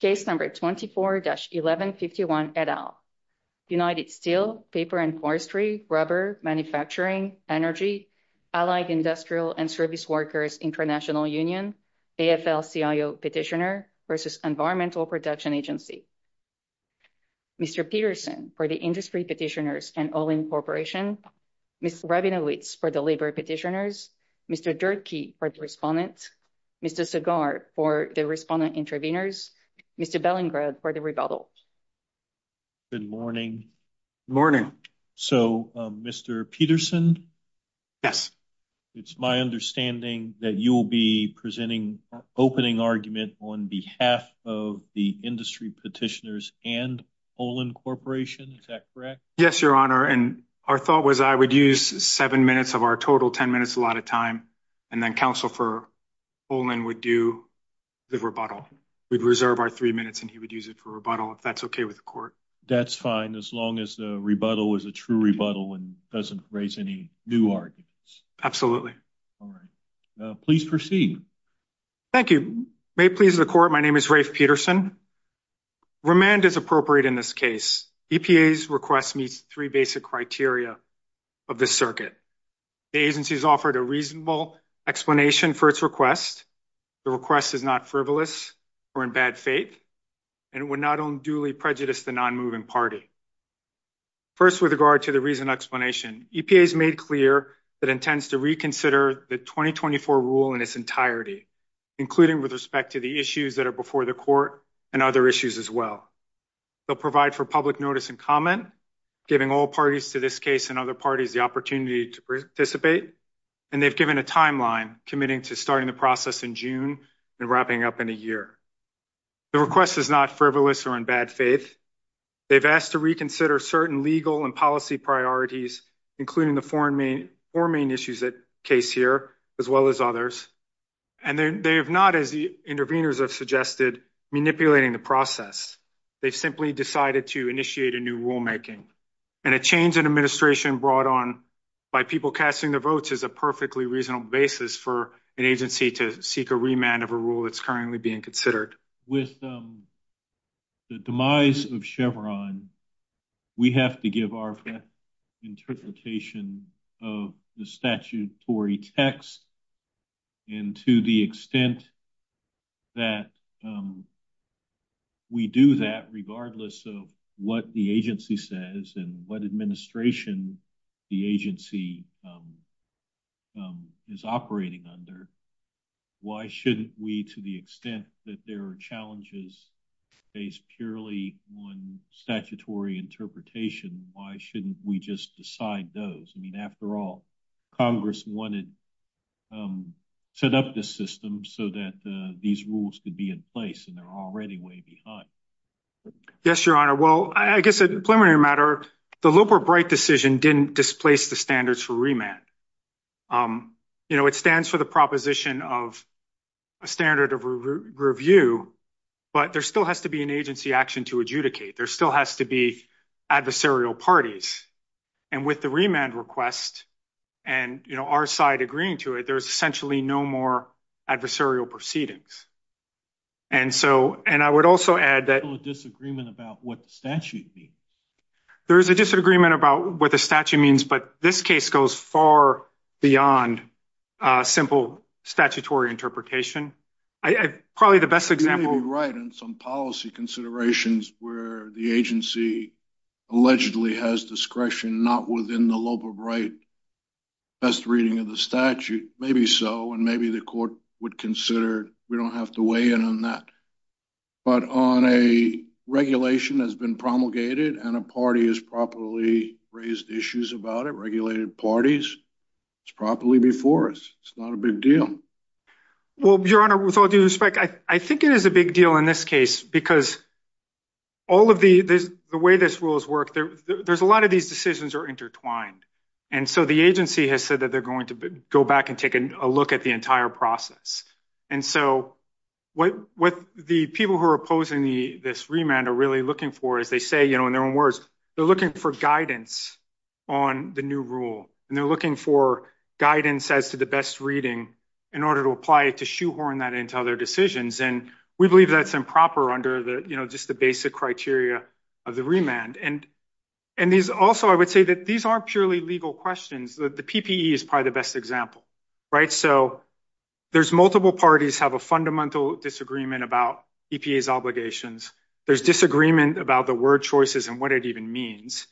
Case number 24-1151 et al. United Steel, Paper and Forestry, Rubber, Manufacturing, Energy, Allied Industrial and Service Workers International Union, ASL-CIO Petitioner versus Environmental Protection Agency. Mr. Peterson for the Industry Petitioners and Olin Corporation, Ms. Rabinowitz for the Labor Petitioners, Mr. Durkee for the Respondents, Mr. Segar for the Respondent Intervenors, Mr. Bellingrad for the Rebuttals. Good morning. So, Mr. Peterson? Yes. It's my understanding that you will be presenting an opening argument on behalf of the Industry Petitioners and Olin Corporation, is that correct? Yes, Your Honor, and our thought was I would use seven minutes of our total, ten minutes a lot of time, and then Counsel for Olin would do the rebuttal. We'd reserve our three minutes and he would use it for rebuttal, if that's okay with the Court. That's fine, as long as the rebuttal is a true rebuttal and doesn't raise any new arguments. Absolutely. All right. Please proceed. Thank you. May it please the Court, my name is Rafe Peterson. Remand is appropriate in this case. EPA's request meets three basic criteria of the circuit. The agency's offered a reasonable explanation for its request. The request is not frivolous or in bad faith and would not unduly prejudice the non-moving party. First, with regard to the reason explanation, EPA's made clear that it intends to reconsider the 2024 rule in its entirety, including with respect to the issues that are before the Court and other issues as well. They'll provide for public notice and comment, giving all parties to this case and other parties the opportunity to participate. And they've given a timeline, committing to starting the process in June and wrapping up in a year. The request is not frivolous or in bad faith. They've asked to reconsider certain legal and policy priorities, including the four main issues at case here, as well as others. And they have not, as the interveners have suggested, manipulating the process. They simply decided to initiate a new rulemaking. And a change in administration brought on by people casting their votes is a perfectly reasonable basis for an agency to seek a remand of a rule that's currently being considered. With the demise of Chevron, we have to give our interpretation of the statutory text and to the extent that we do that, regardless of what the agency says and what administration the agency is operating under, why shouldn't we, to the extent that there are challenges based purely on statutory interpretation, why shouldn't we just decide those? I mean, after all, Congress wanted to set up this system so that these rules could be in place, and they're already way behind. Yes, Your Honor. Well, I guess a preliminary matter, the Luper-Bright decision didn't displace the standards for remand. It stands for the proposition of a standard of review, but there still has to be an agency action to adjudicate. There still has to be adversarial parties. And with the remand request, and our side agreeing to it, there's essentially no more adversarial proceedings. And I would also add that- There's a disagreement about what the statute means. There is a disagreement about what the statute means, but this case goes far beyond a simple statutory interpretation. Probably the best example- You're right in some policy considerations where the agency allegedly has discretion not within the Luper-Bright best reading of the statute. Maybe so, and maybe the court would consider we don't have to weigh in on that. But on a regulation that's been promulgated and a party has properly raised issues about it, regulated parties, it's properly before us. It's not a big deal. Well, Your Honor, with all due respect, I think it is a big deal in this case because the way this rule has worked, there's a lot of these decisions are intertwined. And so the agency has said that they're going to go back and take a look at the entire process. And so what the people who are opposing this remand are really looking for, as they say in their own words, they're looking for guidance on the new rule. And they're looking for guidance as to the best reading in order to apply it to shoehorn that into other decisions. And we believe that's improper under just the basic criteria of the remand. And these also, I would say that these aren't purely legal questions. The PPE is probably the best example. So there's multiple parties have a fundamental disagreement about EPA's obligations. There's disagreement about the word choices and what it even means.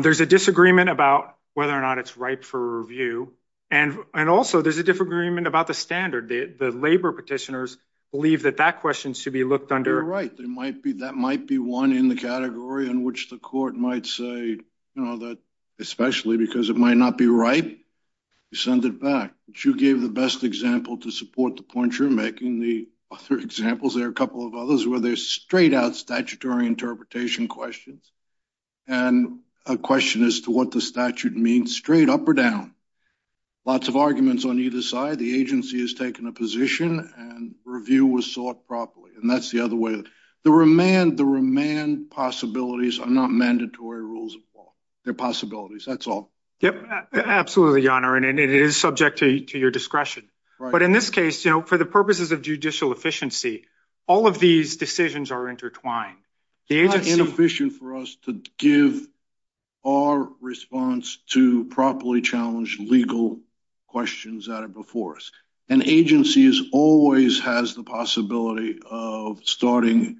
There's a disagreement about whether or not it's right for review. And also there's a disagreement about the standard. The labor petitioners believe that that question should be looked under. You're right. That might be one in the category in which the court might say, especially because it might not be right, you send it back. But you gave the best example to support the point you're making. The other examples, there are a couple of others where they're straight out statutory interpretation questions. And a question as to what the statute means straight up or down. Lots of arguments on either side. The agency has taken a position and review was sought properly. And that's the other way. The remand possibilities are not mandatory rules of law. They're possibilities. That's all. Yep. Absolutely, Your Honor. And it is subject to your discretion. But in this case, for the purposes of judicial efficiency, all of these decisions are intertwined. It's inefficient for us to give our response to properly challenged legal questions that are before us. And agencies always has the possibility of starting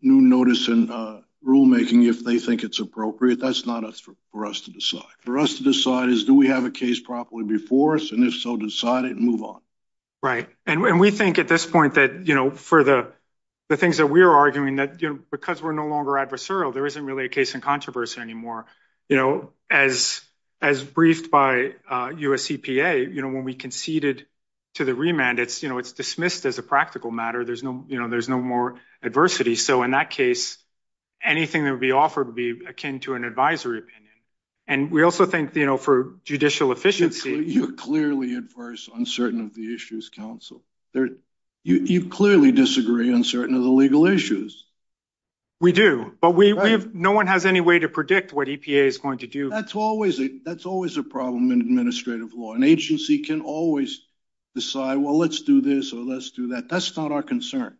new notice and rulemaking if they think it's appropriate. That's not for us to decide. For us to decide is, do we have a case properly before us? And if so, decide it and move on. Right. And we think at this point that for the things that we're arguing that because we're no longer adversarial, there isn't really a case in controversy anymore. As briefed by US EPA, when we conceded to the remand, it's dismissed as a practical matter. There's no more adversity. So in that case, anything that would be offered would be akin to an advisory opinion. And we also think for judicial efficiency- You're clearly adverse on certain of the issues, counsel. You clearly disagree on certain of the legal issues. We do. But no one has any way to predict what EPA is going to do. That's always a problem in administrative law. An agency can always decide, well, let's do this or let's do that. That's not our concern.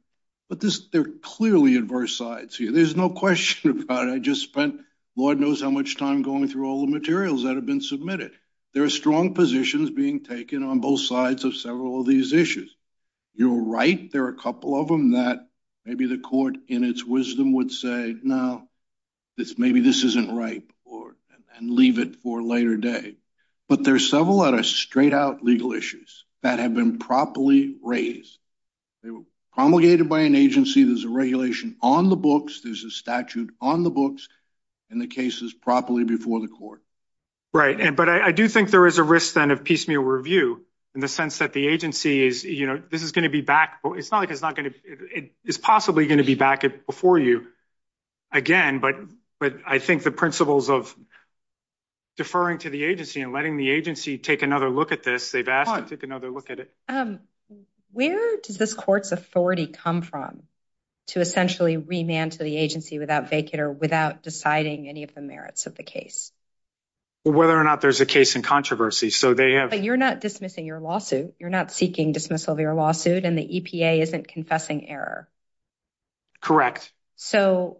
But they're clearly adverse sides here. There's no question about it. I just spent, Lord knows how much time going through all the materials that have been submitted. There are strong positions being taken on both sides of several of these issues. You're right. There are a couple of them that maybe the court in its wisdom would say, no, maybe this isn't right and leave it for later day. But there are several that are straight out legal issues that have been properly raised. They were promulgated by an agency. There's a regulation on the books. There's a statute on the books and the case is properly before the court. Right. But I do think there is a risk then of piecemeal review in the sense that the agency is, this is going to be back. It's not like it's not going to, it's possibly going to be back before you again. But I think the principles of deferring to the agency and letting the agency take another look at this, they've asked to take another look at it. Where did this court's authority come from to essentially remand to the agency without vacater, without deciding any of the merits of the case? Whether or not there's a case in controversy. So they have. You're not dismissing your lawsuit. You're not seeking dismissal of your lawsuit and the EPA isn't confessing error. Correct. So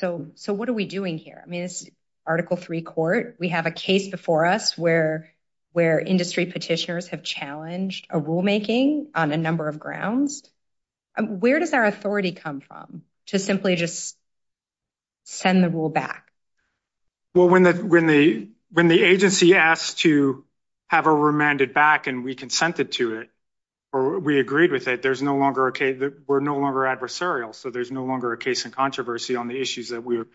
what are we doing here? I mean, it's article three court. We have a case before us where industry petitioners have challenged a rulemaking on a number of grounds. Where does our authority come from to simply just send the rule back? Well, when the agency asked to have a remanded back and we consented to it or we agreed with it, there's no longer a case, we're no longer adversarial. So there's no longer a case in controversy on the issues that we've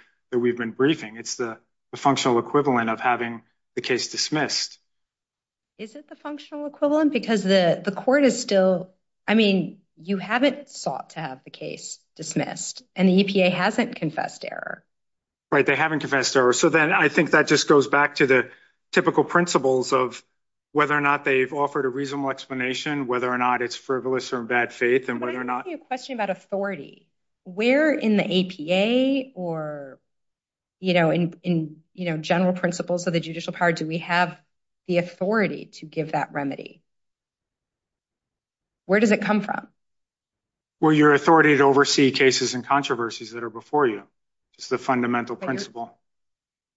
been briefing. It's the functional equivalent of having the case dismissed. Is it the functional equivalent? Because the court is still, I mean, you haven't sought to have the case dismissed and the EPA hasn't confessed error. Right. They haven't confessed error. So then I think that just goes back to the typical principles of whether or not they've offered a reasonable explanation, whether or not it's frivolous or in bad faith and whether or not- Let me ask you a question about authority. Where in the APA or in general principles of the judicial power do we have the authority to give that remedy? Where does it come from? Well, your authority to oversee cases and controversies that are before you is the fundamental principle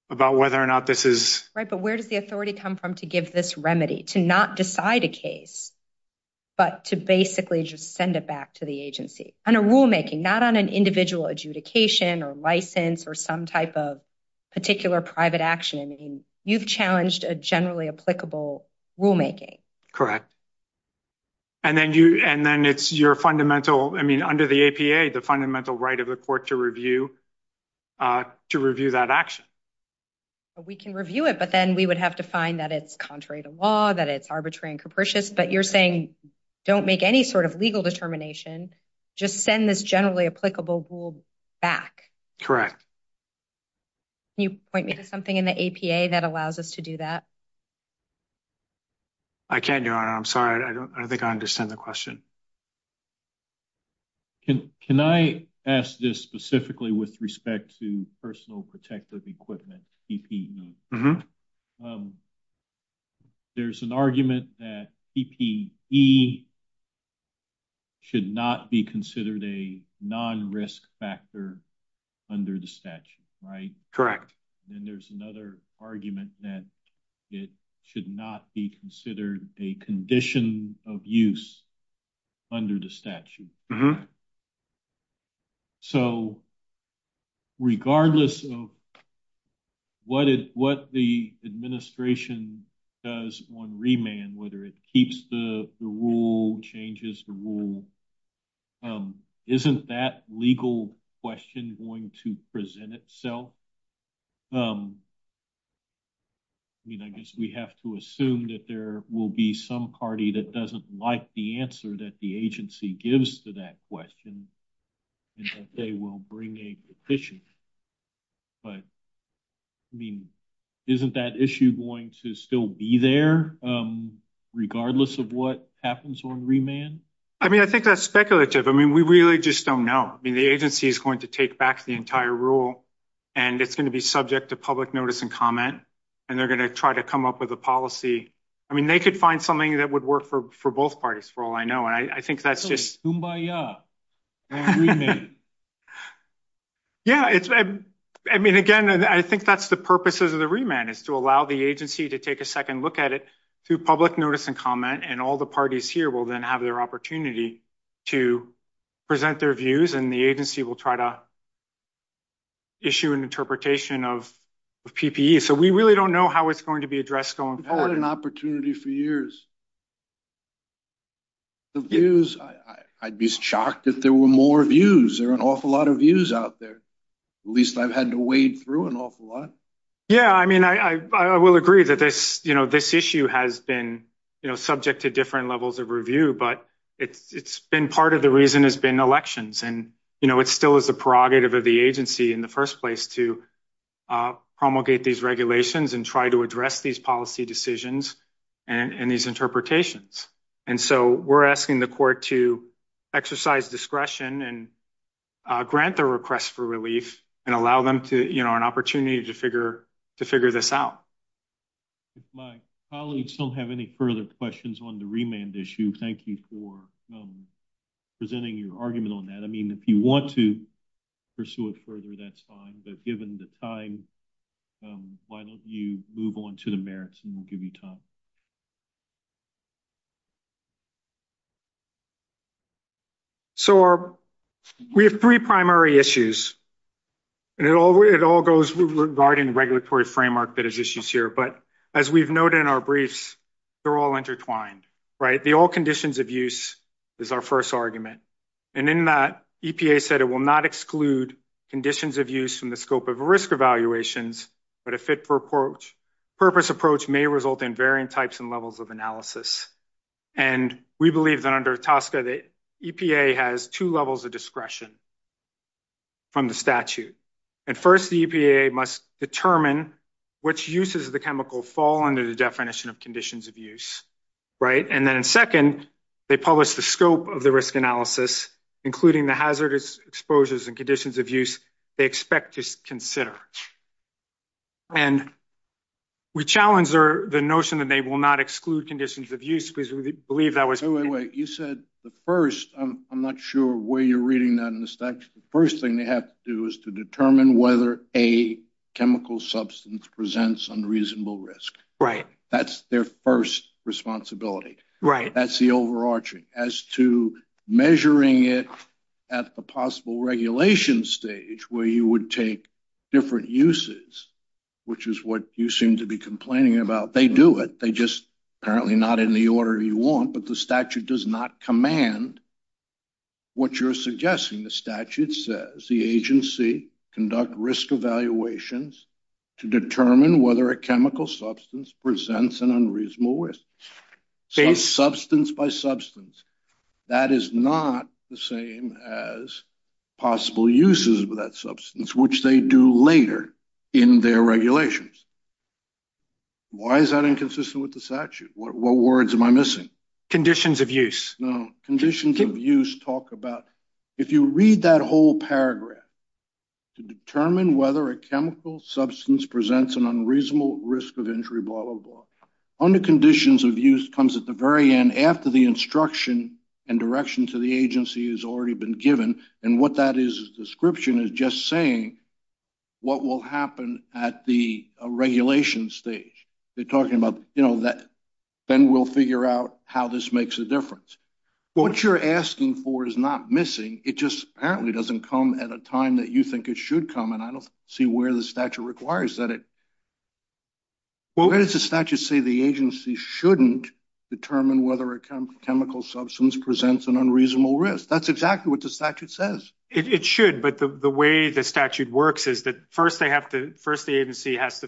about whether or not this is- Right. But where does the authority come from to give this remedy, to not decide a case, but to basically just send it back to the agency on a rulemaking, not on an individual adjudication or license or some type of particular private action? I mean, you've challenged a generally applicable rulemaking. Correct. And then it's your fundamental, I mean, under the APA, the fundamental right of the court to review that action. We can review it, but then we would have to find that it's contrary to law, that it's arbitrary and capricious, but you're saying don't make any sort of legal determination, just send this generally applicable rule back. Correct. Can you point me to something in the APA that allows us to do that? I can't do it. I'm sorry. I don't think I understand the question. Can I ask this specifically with respect to personal protective equipment, PPE? Mm-hmm. There's an argument that PPE should not be considered a non-risk factor under the statute, right? Correct. And there's another argument that it should not be considered a condition of use under the statute. Mm-hmm. So, regardless of what the administration does on remand, whether it keeps the rule, changes the rule, isn't that legal question going to present itself? I mean, I guess we have to assume that there will be some party that doesn't like the answer that the agency gives to that question and that they will bring a petition. But, I mean, isn't that issue going to still be there regardless of what happens on remand? I mean, I think that's speculative. I mean, we really just don't know. I mean, the agency is going to take back the entire rule and it's going to be subject to public notice and comment, and they're going to try to come up with a policy. I mean, they could find something that would work for both parties, for all I know. And I think that's just... So, it's kumbaya on remand. Yeah. I mean, again, I think that's the purpose of the remand is to allow the agency to take a second look at it through public notice and comment, and all the parties here will then have their opportunity to present their views, and the agency will try to issue an interpretation of PPE. So, we really don't know how it's going to be addressed going forward. An opportunity for years. I'd be shocked if there were more views. There are an awful lot of views out there. At least I've had to wade through an awful lot. Yeah. I mean, I will agree that this issue has been subject to different levels of review, but it's been part of the reason it's been elections. And it still is the prerogative of the agency in first place to promulgate these regulations and try to address these policy decisions and these interpretations. And so, we're asking the court to exercise discretion and grant the request for relief and allow them an opportunity to figure this out. My colleagues don't have any further questions on the remand issue. Thank you for presenting your argument on that. I mean, if you want to pursue it further, that's fine. But given the time, why don't you move on to the merits, and we'll give you time. So, we have three primary issues. And it all goes regarding regulatory framework that is here. But as we've noted in our briefs, they're all intertwined, right? The all conditions of use is our first argument. And in that, EPA said it will not exclude conditions of use from the scope of risk evaluations, but a fit for purpose approach may result in varying types and levels of analysis. And we believe that under TSCA, the EPA has two levels of discretion from the statute. At first, the EPA must determine which uses of the chemical fall under the definition of conditions of use, right? And then second, they publish the scope of the risk analysis, including the hazardous exposures and conditions of use they expect to consider. And we challenge the notion that they will not exclude conditions of use because we believe that was... Wait, wait, wait. You said the first. I'm not sure where you're reading that in the whether a chemical substance presents unreasonable risk. Right. That's their first responsibility. Right. That's the overarching as to measuring it at the possible regulation stage where you would take different uses, which is what you seem to be complaining about. They do it. They just apparently not in the order you want, but the statute does not command what you're suggesting. The statute says the agency conduct risk evaluations to determine whether a chemical substance presents an unreasonable risk. Substance by substance, that is not the same as possible uses of that substance, which they do later in their regulations. Why is that inconsistent with the statute? What words am I missing? Conditions of use. No. Conditions of use talk about... If you read that whole paragraph to determine whether a chemical substance presents an unreasonable risk of injury, blah, blah, blah. Under conditions of use comes at the very end after the instruction and direction to the agency has already been given. And what that is a description is just saying what will happen at the regulation stage. They're talking about then we'll figure out how this makes a difference. What you're asking for is not missing. It just apparently doesn't come at a time that you think it should come. And I don't see where the statute requires that. What does the statute say the agency shouldn't determine whether a chemical substance presents an unreasonable risk? That's exactly what the statute says. It should, but the way the statute works is that first they have to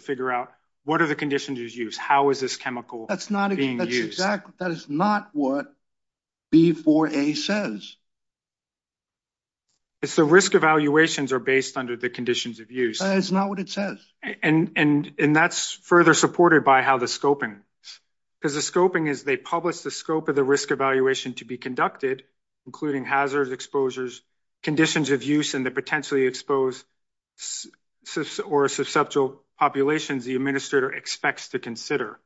figure out what are the conditions of use? How is this chemical being used? That's not what B4A says. So risk evaluations are based under the conditions of use. That's not what it says. And that's further supported by how the scoping... Because the scoping is they publish the scope of the risk evaluation to be conducted, including hazards, exposures, conditions of use, and the populations the administrator expects to consider.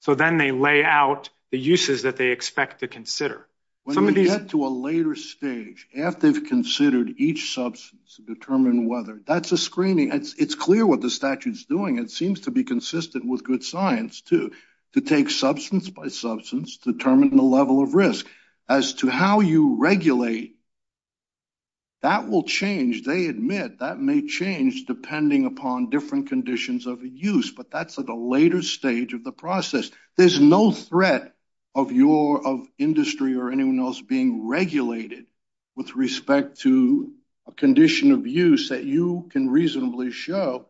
So then they lay out the uses that they expect to consider. When we get to a later stage, after they've considered each substance to determine whether... That's a screening. It's clear what the statute's doing. It seems to be consistent with good science too, to take substance by substance, determine the level of risk. As to how you regulate, that will change. They admit that may change depending upon different conditions of use, but that's at a later stage of the process. There's no threat of industry or anyone else being regulated with respect to a condition of use that you can reasonably show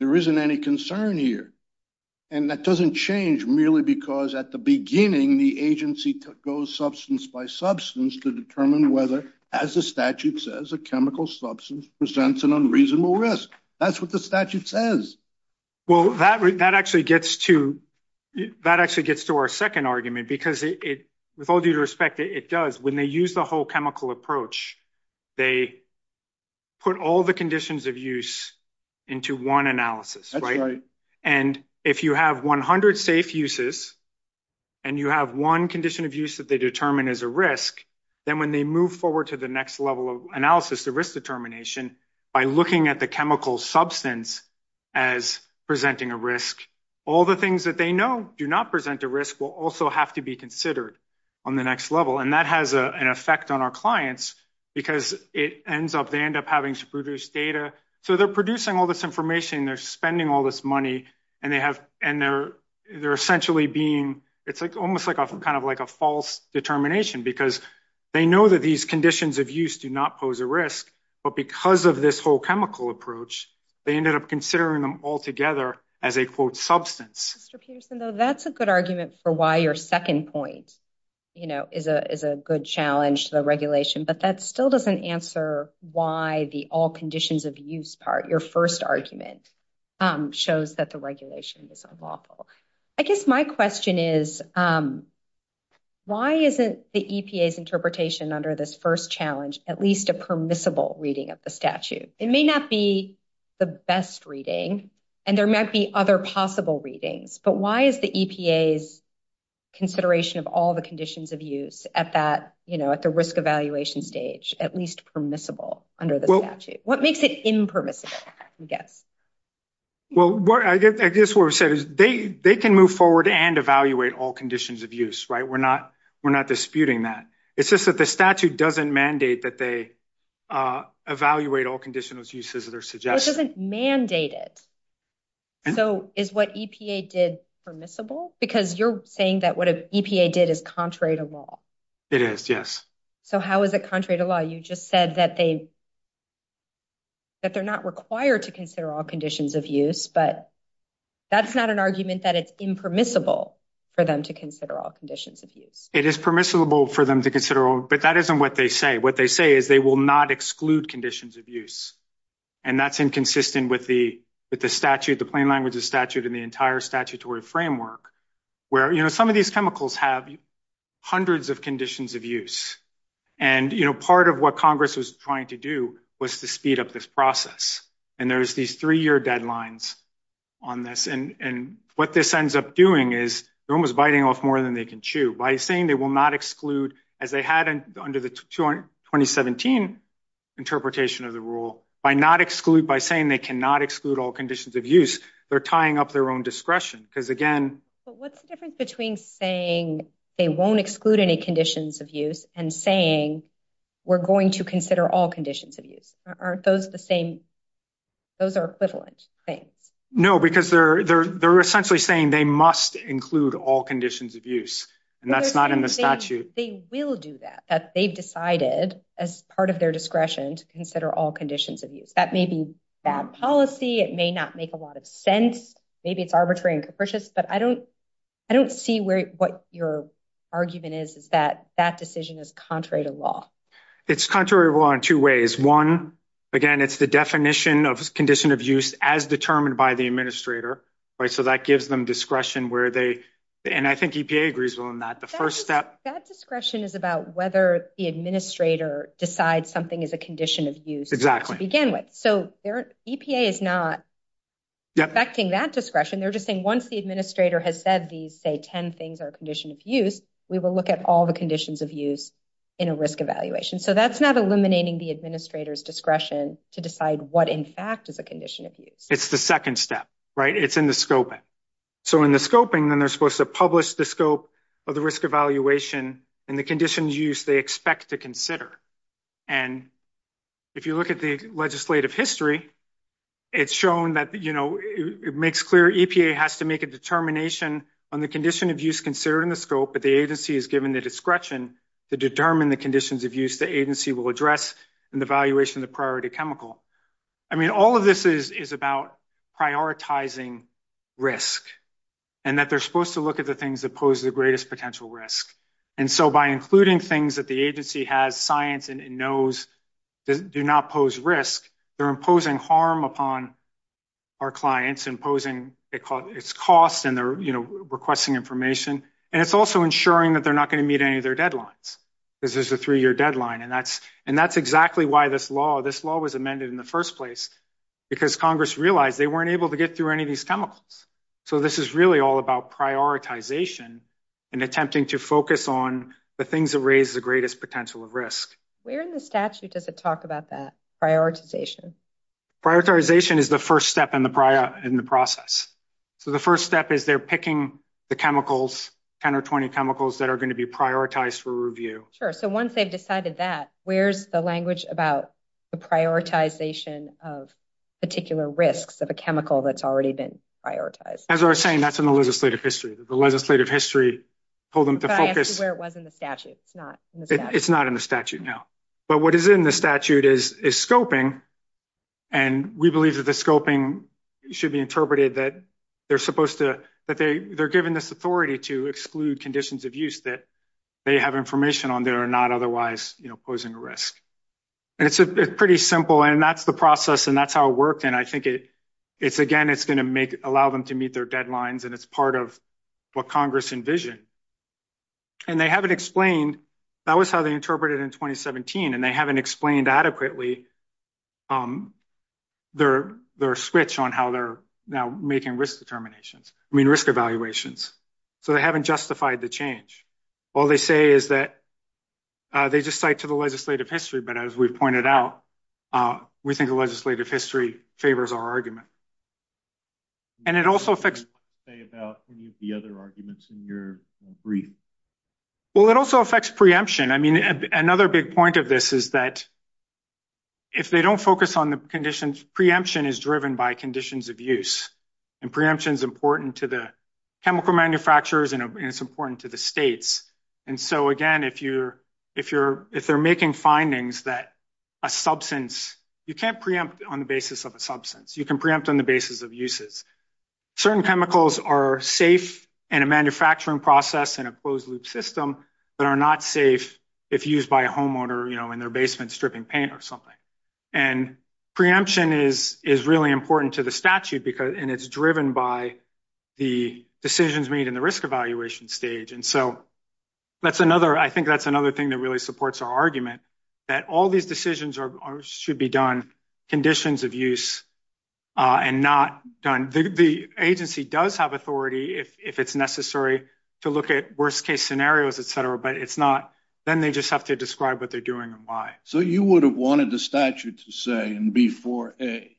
there isn't any concern here. And that doesn't change merely because at the end of the day, it's the use of substance by substance to determine whether, as the statute says, a chemical substance presents an unreasonable risk. That's what the statute says. Well, that actually gets to our second argument, because with all due respect, it does. When they use the whole chemical approach, they put all the conditions of use into one analysis. That's 100 safe uses, and you have one condition of use that they determine as a risk. Then when they move forward to the next level of analysis, the risk determination, by looking at the chemical substance as presenting a risk, all the things that they know do not present a risk will also have to be considered on the next level. And that has an effect on our clients, because it ends up... They end up having sprucious data. So they're producing all this information, and they're spending all this money, and they're essentially being... It's almost like a false determination, because they know that these conditions of use do not pose a risk, but because of this whole chemical approach, they ended up considering them all together as a, quote, substance. Mr. Peterson, though, that's a good argument for why your second point is a good challenge to the regulation, but that still doesn't answer why the all conditions of use part, your first argument, shows that the regulation is unlawful. I guess my question is, why isn't the EPA's interpretation under this first challenge at least a permissible reading of the statute? It may not be the best reading, and there might be other possible readings, but why is the EPA's consideration of all the conditions of use at the risk evaluation stage at least permissible under the statute? What makes it impermissible, I guess? Well, I guess what I said is they can move forward and evaluate all conditions of use, right? We're not disputing that. It's just that the statute doesn't mandate that they evaluate all conditions of use as they're suggested. It doesn't mandate it. So is what EPA did permissible? Because you're saying that what EPA did is contrary to law. It is, yes. So how is it contrary to law? You just said that they're not required to consider all conditions of use, but that's not an argument that it's impermissible for them to consider all conditions of use. It is permissible for them to consider all, but that isn't what they say. What they say is they will not exclude conditions of use, and that's inconsistent with the statute, the plain language of statute, and the entire statutory framework where some of these have hundreds of conditions of use. And part of what Congress was trying to do was to speed up this process. And there's these three-year deadlines on this. And what this ends up doing is no one's biting off more than they can chew. By saying they will not exclude, as they had under the 2017 interpretation of the rule, by saying they cannot exclude all conditions of use, they're tying up their own discretion. But what's the difference between saying they won't exclude any conditions of use and saying we're going to consider all conditions of use? Aren't those the same? Those are equivalent things. No, because they're essentially saying they must include all conditions of use, and that's not in the statute. They will do that. They've decided, as part of their discretion, to consider all conditions of use. That may be bad policy. It may not make a lot of sense. Maybe it's arbitrary and capricious. But I don't see what your argument is that that decision is contrary to law. It's contrary to law in two ways. One, again, it's the definition of condition of use as determined by the administrator. So that gives them discretion where they... And I think EPA agrees on that. The first step... That discretion is about whether the administrator decides something is a condition of use to begin with. So EPA is not... Yep. ...affecting that discretion. They're just saying once the administrator has said these, say, 10 things are a condition of use, we will look at all the conditions of use in a risk evaluation. So that's not eliminating the administrator's discretion to decide what, in fact, is a condition of use. It's the second step, right? It's in the scoping. So in the scoping, then, they're supposed to publish the scope of the risk evaluation and the condition of use they expect to consider. And if you look at the legislative history, it's shown that it makes clear EPA has to make a determination on the condition of use considering the scope, but the agency is given the discretion to determine the conditions of use the agency will address in the evaluation of the priority chemical. I mean, all of this is about prioritizing risk and that they're supposed to look at the things that pose the greatest potential risk. And so by including things that the agency has science and knows that do not pose risk, they're imposing harm upon our clients, imposing its cost, and they're requesting information. And it's also ensuring that they're not going to meet any of their deadlines, because there's a three-year deadline. And that's exactly why this law was amended in the first place, because Congress realized they weren't able to get through any of these chemicals. So this is really all about prioritization and attempting to focus on the things that raise the greatest potential risk. Where in the statute does it talk about that prioritization? Prioritization is the first step in the process. So the first step is they're picking the chemicals, 10 or 20 chemicals that are going to be prioritized for review. Sure. So once they've decided that, where's the language about the prioritization of particular risks of a chemical that's already been prioritized? As we were saying, that's in the legislative history. Legislative history told them to focus... That's where it was in the statute. It's not in the statute. It's not in the statute, no. But what is in the statute is scoping. And we believe that the scoping should be interpreted that they're given this authority to exclude conditions of use that they have information on that are not otherwise posing a risk. And it's pretty simple. And that's the process, and that's how it worked. And I think, again, it's going to allow them to deadlines, and it's part of what Congress envisioned. And they haven't explained... That was how they interpreted it in 2017, and they haven't explained adequately their switch on how they're now making risk evaluations. So they haven't justified the change. All they say is that they just cite to the legislative history, but as we've pointed out, we think the legislative history favors our argument. And it also affects... Can you say about any of the other arguments in your brief? Well, it also affects preemption. I mean, another big point of this is that if they don't focus on the conditions, preemption is driven by conditions of use. And preemption is important to the chemical manufacturers, and it's important to the states. And so, again, if they're making findings that a substance... You can't preempt on the basis of a substance. You can preempt on the basis of uses. Certain chemicals are safe in a manufacturing process in a closed-loop system that are not safe if used by a homeowner in their basement stripping paint or something. And preemption is really important to the statute, and it's driven by the decisions made in the risk evaluation stage. And so, I think that's another thing that really supports our argument, that all these decisions should be done conditions of use and not done... The agency does have authority if it's necessary to look at worst-case scenarios, et cetera, but it's not... Then they just have to describe what they're doing and why. So, you would have wanted the statute to say in B4A,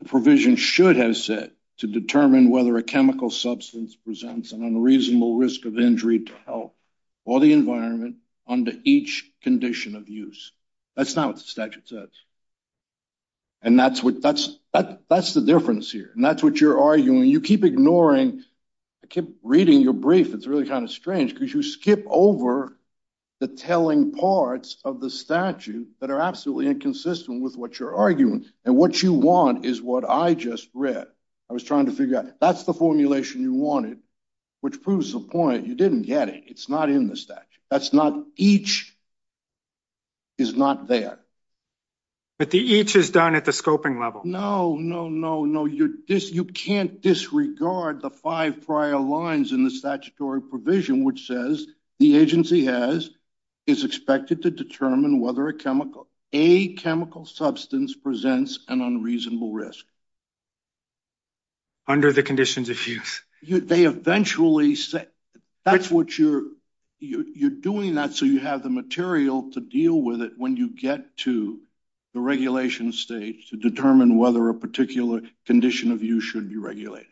the provision should have said, to determine whether a chemical substance presents an unreasonable risk of injury to health or the environment under each condition of use. That's not what the statute says. And that's the difference here. And that's what you're arguing. And you keep ignoring... I keep reading your brief. It's really kind of strange because you skip over the telling parts of the statute that are absolutely inconsistent with what you're arguing. And what you want is what I just read. I was trying to figure out. That's the formulation you wanted, which proves the point. You didn't get it. It's not in the statute. That's not... Each is not there. But the each is done at the scoping level. No, no, no, no. You can't disregard the five prior lines in the statutory provision, which says the agency is expected to determine whether a chemical substance presents an unreasonable risk. Under the conditions of use. They eventually say... That's what you're... You're doing that so you have the material to deal with it when you get to the regulation stage to determine whether a particular condition of use should be regulated.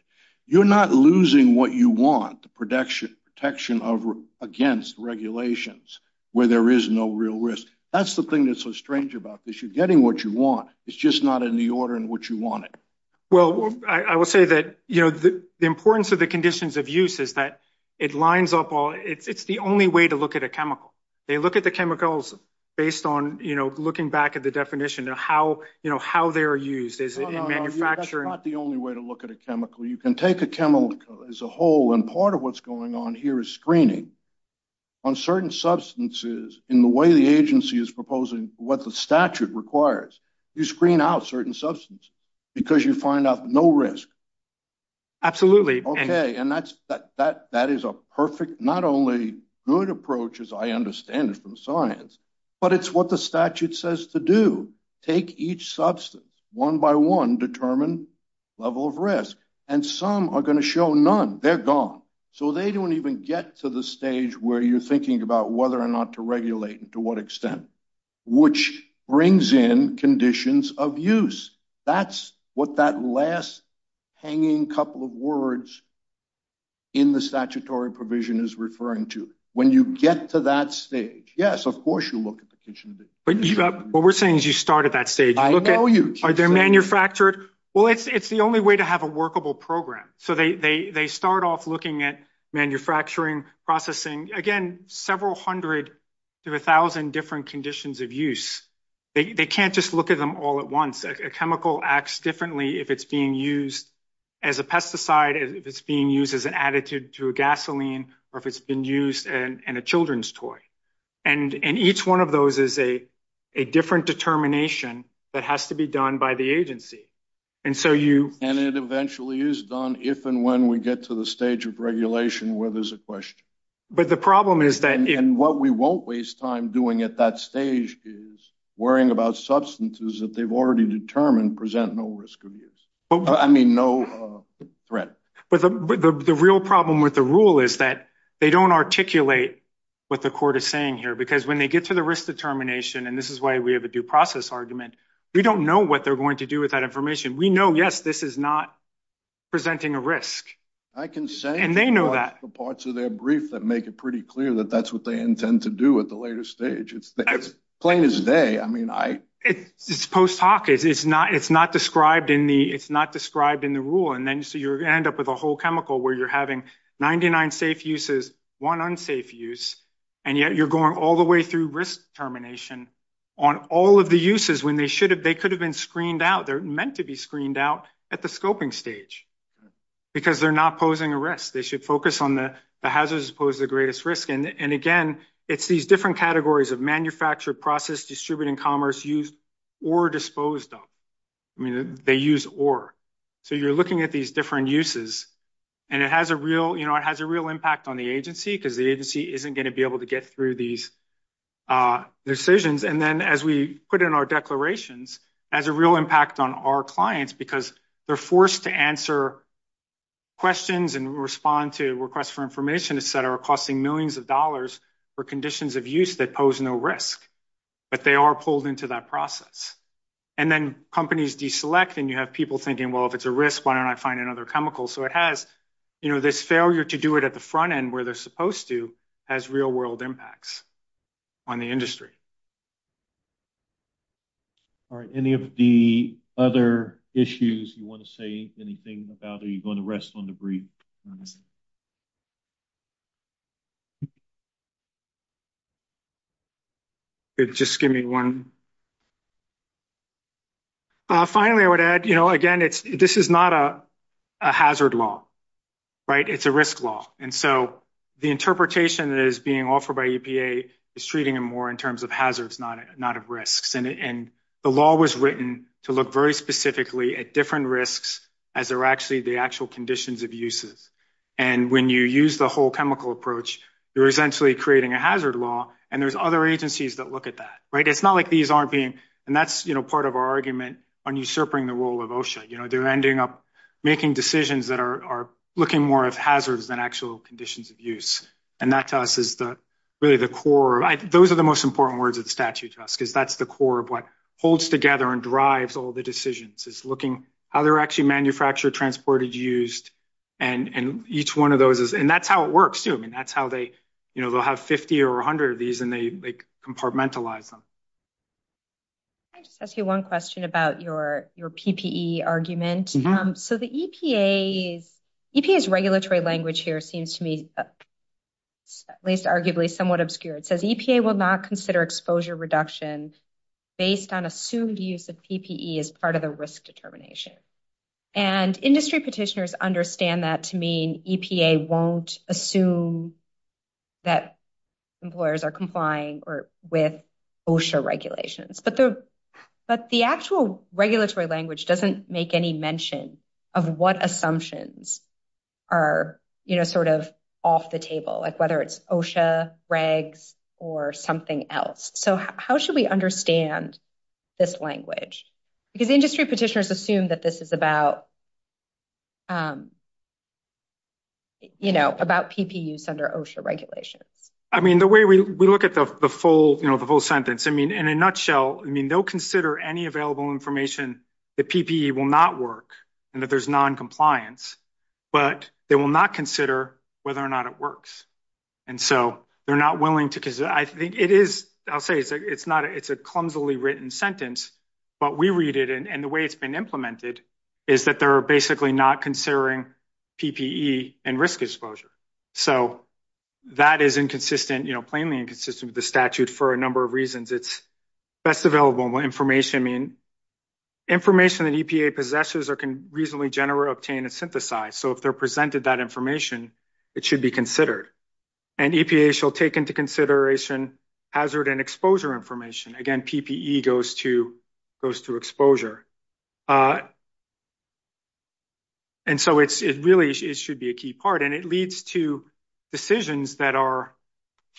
You're not losing what you want. The protection of... Against regulations where there is no real risk. That's the thing that's so strange about this. You're getting what you want. It's just not in the order in which you want it. Well, I will say that the importance of the conditions of use is that it lines up all... It's the only way to look at a chemical. They look at the chemicals based on looking back at the definition of how they're used. Is it in manufacturing? Not the only way to look at a chemical. You can take a chemical as a whole and part of what's going on here is screening. On certain substances, in the way the agency is proposing what the statute requires, you screen out certain substances because you find out no risk. Absolutely. Okay. And that is a perfect, not only good approach as I understand it from science, but it's what the statute says to do. Take each substance. One by one, determine level of risk. And some are going to show none. They're gone. So they don't even get to the stage where you're thinking about whether or not to regulate and to what extent, which brings in conditions of use. That's what that last hanging couple of words in the statutory provision is referring to. When you get to that stage, yes, of course you look at the definition of it. What we're saying is you start at that stage. I know you. Are they manufactured? Well, it's the only way to have a workable program. So they start off looking at manufacturing, processing, again, several hundred to a thousand different conditions of use. They can't just look at them all at once. A chemical acts differently if it's being used as a pesticide, if it's being used as an additive to a gasoline, or if it's been used in a children's toy. And each one of those is a different determination that has to be done by the agency. And so you- And it eventually is done if and when we get to the stage of regulation where there's a question. But the problem is that- And what we won't waste time doing at that stage is worrying about substances that they've already determined present no risk of use. I mean, no threat. But the real problem with the rule is that they don't articulate what the court is saying here, because when they get to the risk determination, and this is why we have a due process argument, we don't know what they're going to do with that information. We know, yes, this is not presenting a risk. I can say- And they know that. The parts of their brief that make it pretty clear that that's what they intend to do at the later stage. It's plain as day. I mean, I- It's post hoc. It's not described in the- It's not described in the rule. And then, so you're going to end up with a whole chemical where you're having 99 safe uses, one unsafe use, and yet you're going all the way through risk determination on all of the uses when they should have- They could have been screened out. They're meant to be screened out at the scoping stage, because they're not posing a risk. They should focus on the hazards as opposed to the greatest risk. And again, it's these different categories of manufactured, processed, distributed, and commerce used or disposed of. I mean, they use or. So, you're looking at these different uses, and it has a real impact on the agency, because the agency isn't going to be able to get through these decisions. And then, as we put in our declarations, it has a real impact on our clients, because they're forced to answer questions and respond to requests for information, et cetera, costing millions of dollars for conditions of use that pose no risk. But they are pulled into that process. And then, companies deselect, and you have people thinking, well, if it's a risk, why don't I find another chemical? So, it has this failure to do it at the front end where they're supposed to has real-world impacts on the industry. All right. Any of the other issues you want to say anything about? Are you going to rest on the brief? Just give me one. Finally, I would add, you know, again, this is not a hazard law, right? It's a risk law. And so, the interpretation that is being offered by EPA is treating them more in terms of hazards, not of risks. And the law was written to look very specifically at different risks as they're actually the actual conditions of uses. And when you use the whole chemical approach, you're essentially creating a hazard law, and there's other agencies that look at that, right? It's not like these aren't being, and that's, you know, part of our argument on usurping the role of OSHA. You know, they're ending up making decisions that are looking more at hazards than actual conditions of use. And that to us is really the core. Those are the most important words of the statute to us, because that's the core of what holds together and drives all the decisions. It's looking how they're actually manufactured, transported, used, and each one of those is, and that's how it works, too. I mean, that's how they, you know, they'll have 50 or 100 of these, and they compartmentalize them. I just have one question about your PPE argument. So, the EPA's regulatory language here seems to me, at least arguably, somewhat obscure. It says, EPA will not consider exposure reduction based on assumed use of PPE as part of a risk determination. And industry petitioners understand that to mean EPA won't assume that employers are complying with OSHA regulations. But the actual regulatory language doesn't make any mention of what assumptions are, you know, sort of off the table, like whether it's OSHA, regs, or something else. So, how should we understand this language? Because industry petitioners assume that this is about, you know, about PPE use under OSHA regulations. I mean, the way we look at the full, you know, the whole sentence, I mean, in a nutshell, I mean, they'll consider any available information that PPE will not work, and that there's noncompliance, but they will not consider whether or not it works. And so, they're not willing to, because I think it is, I'll say, it's not, it's a clumsily written sentence, but we read it, and the way it's been implemented is that they're basically not considering PPE and risk exposure. So, that is inconsistent, you know, plainly inconsistent with the statute for a number of reasons. It's best available information, I mean, information that EPA possesses or can reasonably generate, obtain, and synthesize. So, if they're presented that information, it should be considered. And EPA shall take into consideration hazard and exposure information. Again, PPE goes to exposure. And so, it really, it should be a key part, and it leads to decisions that are,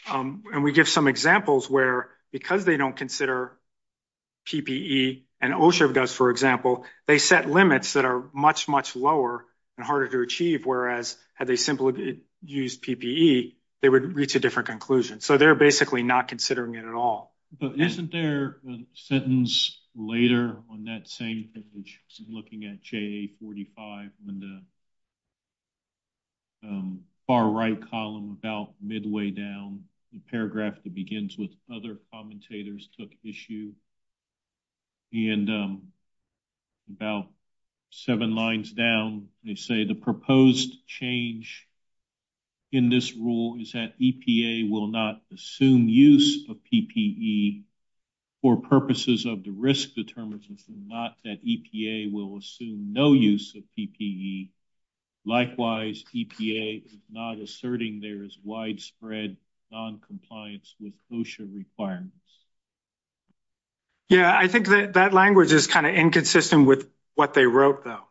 and we give some examples where, because they don't consider PPE, and OSHA does, for example, they set limits that are much, much lower and harder to achieve, whereas, had they simply used PPE, they would reach a different conclusion. So, they're basically not considering it at all. But isn't there a sentence later on that same image looking at JA-45 in the far right column about midway down, the paragraph that begins with, other commentators took issue, and about seven lines down, they say, the proposed change in this rule is that EPA will not assume use of PPE for purposes of the risk determination, not that EPA will assume no use of PPE. Likewise, EPA is not asserting there's widespread noncompliance with OSHA requirements. Yeah, I think that language is kind of inconsistent with what they wrote, though,